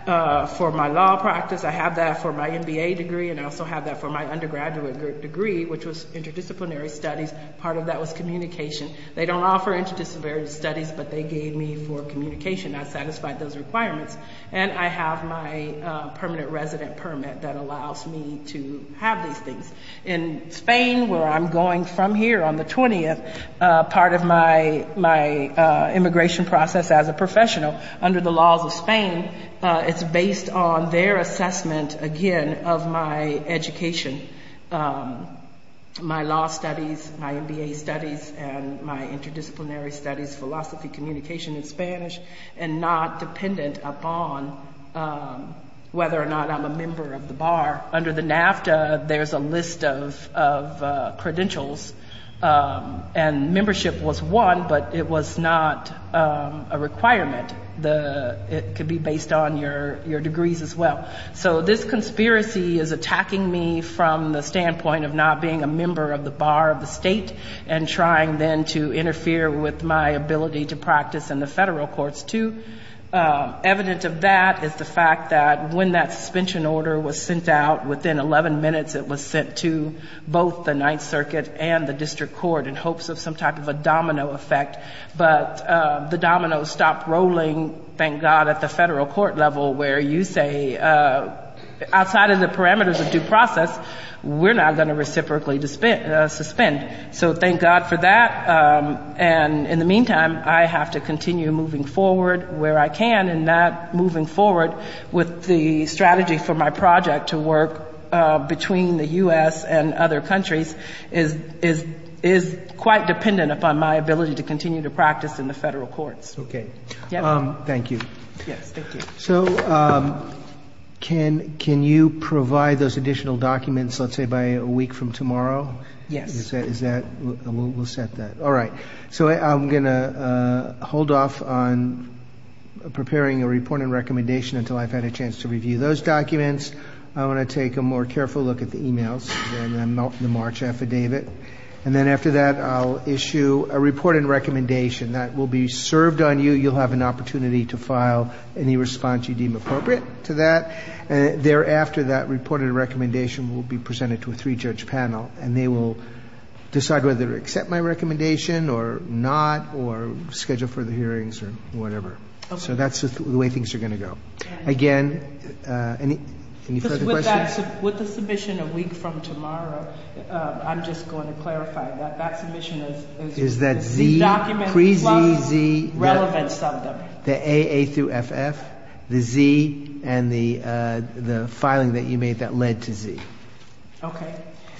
for my law practice, I have that for my MBA degree, and I also have that for my undergraduate degree, which was interdisciplinary studies. Part of that was communication. They don't offer interdisciplinary studies, but they gave me for communication. I satisfied those requirements. And I have my permanent resident permit that allows me to have these things. In Spain, where I'm going from here on the 20th, part of my immigration process as a professional, under the laws of Spain, it's based on their assessment, again, of my education, my law studies, my MBA studies, and my interdisciplinary studies, philosophy, communication in Spanish, and not dependent upon whether or not I'm a member of the bar. Under the NAFTA, there's a list of credentials, and membership was one, but it was not a requirement. It could be based on your degrees as well. So this conspiracy is attacking me from the standpoint of not being a member of the bar of the state and trying then to interfere with my ability to practice in the federal courts too. Evidence of that is the fact that when that suspension order was sent out, within 11 minutes, it was sent to both the Ninth Circuit and the district court in hopes of some type of a domino effect. But the dominoes stopped rolling, thank God, at the federal court level, where you say outside of the parameters of due process, we're not going to reciprocally suspend. So thank God for that. And in the meantime, I have to continue moving forward where I can, and that moving forward with the strategy for my project to work between the U.S. and other countries is quite dependent upon my ability to continue to practice in the federal courts. Thank you. So can you provide those additional documents, let's say, by a week from tomorrow? Yes. We'll set that. All right. So I'm going to hold off on preparing a report and recommendation until I've had a chance to review those documents. I want to take a more careful look at the e-mails. They're in the March affidavit. And then after that, I'll issue a report and recommendation that will be served on you. You'll have an opportunity to file any response you deem appropriate to that. Thereafter, that report and recommendation will be presented to a three-judge panel, and they will decide whether to accept my recommendation or not, or schedule further hearings or whatever. So that's the way things are going to go. Again, any further questions? With the submission a week from tomorrow, I'm just going to clarify that that submission is the documents. The AA through FF, the Z, and the filing that you made that led to Z. Okay.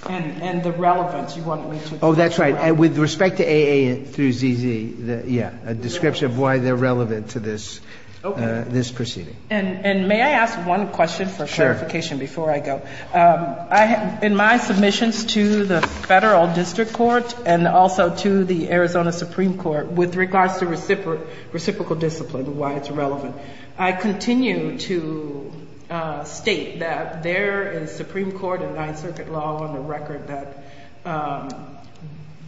And the relevance you want me to describe? Oh, that's right. With respect to AA through ZZ, yeah, a description of why they're relevant to this proceeding. And may I ask one question for clarification before I go? In my submissions to the Federal District Court and also to the Arizona Supreme Court, with regards to reciprocal discipline, why it's relevant, I continue to state that there is Supreme Court and Ninth Circuit law on the record that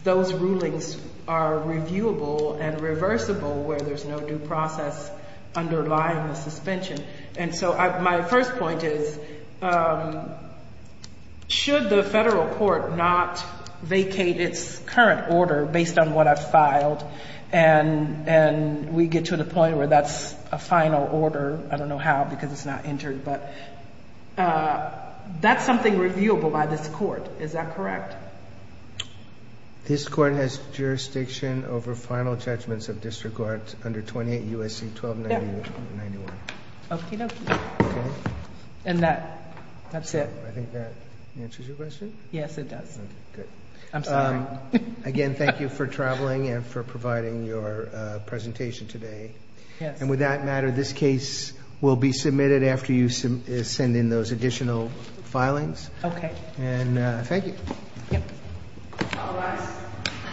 those rulings are reviewable and reversible where there's no due process underlying the suspension. And so my first point is, should the federal court not vacate its current order based on what I've filed and we get to the point where that's a final order, I don't know how because it's not entered, but that's something reviewable by this court. Is that correct? This court has jurisdiction over final judgments of district courts under 28 U.S.C. 1291. Okay. And that's it. I think that answers your question? Yes, it does. Good. I'm sorry. Again, thank you for traveling and for providing your presentation today. And with that matter, this case will be submitted after you send in those additional filings. Okay. Thank you. Thank you.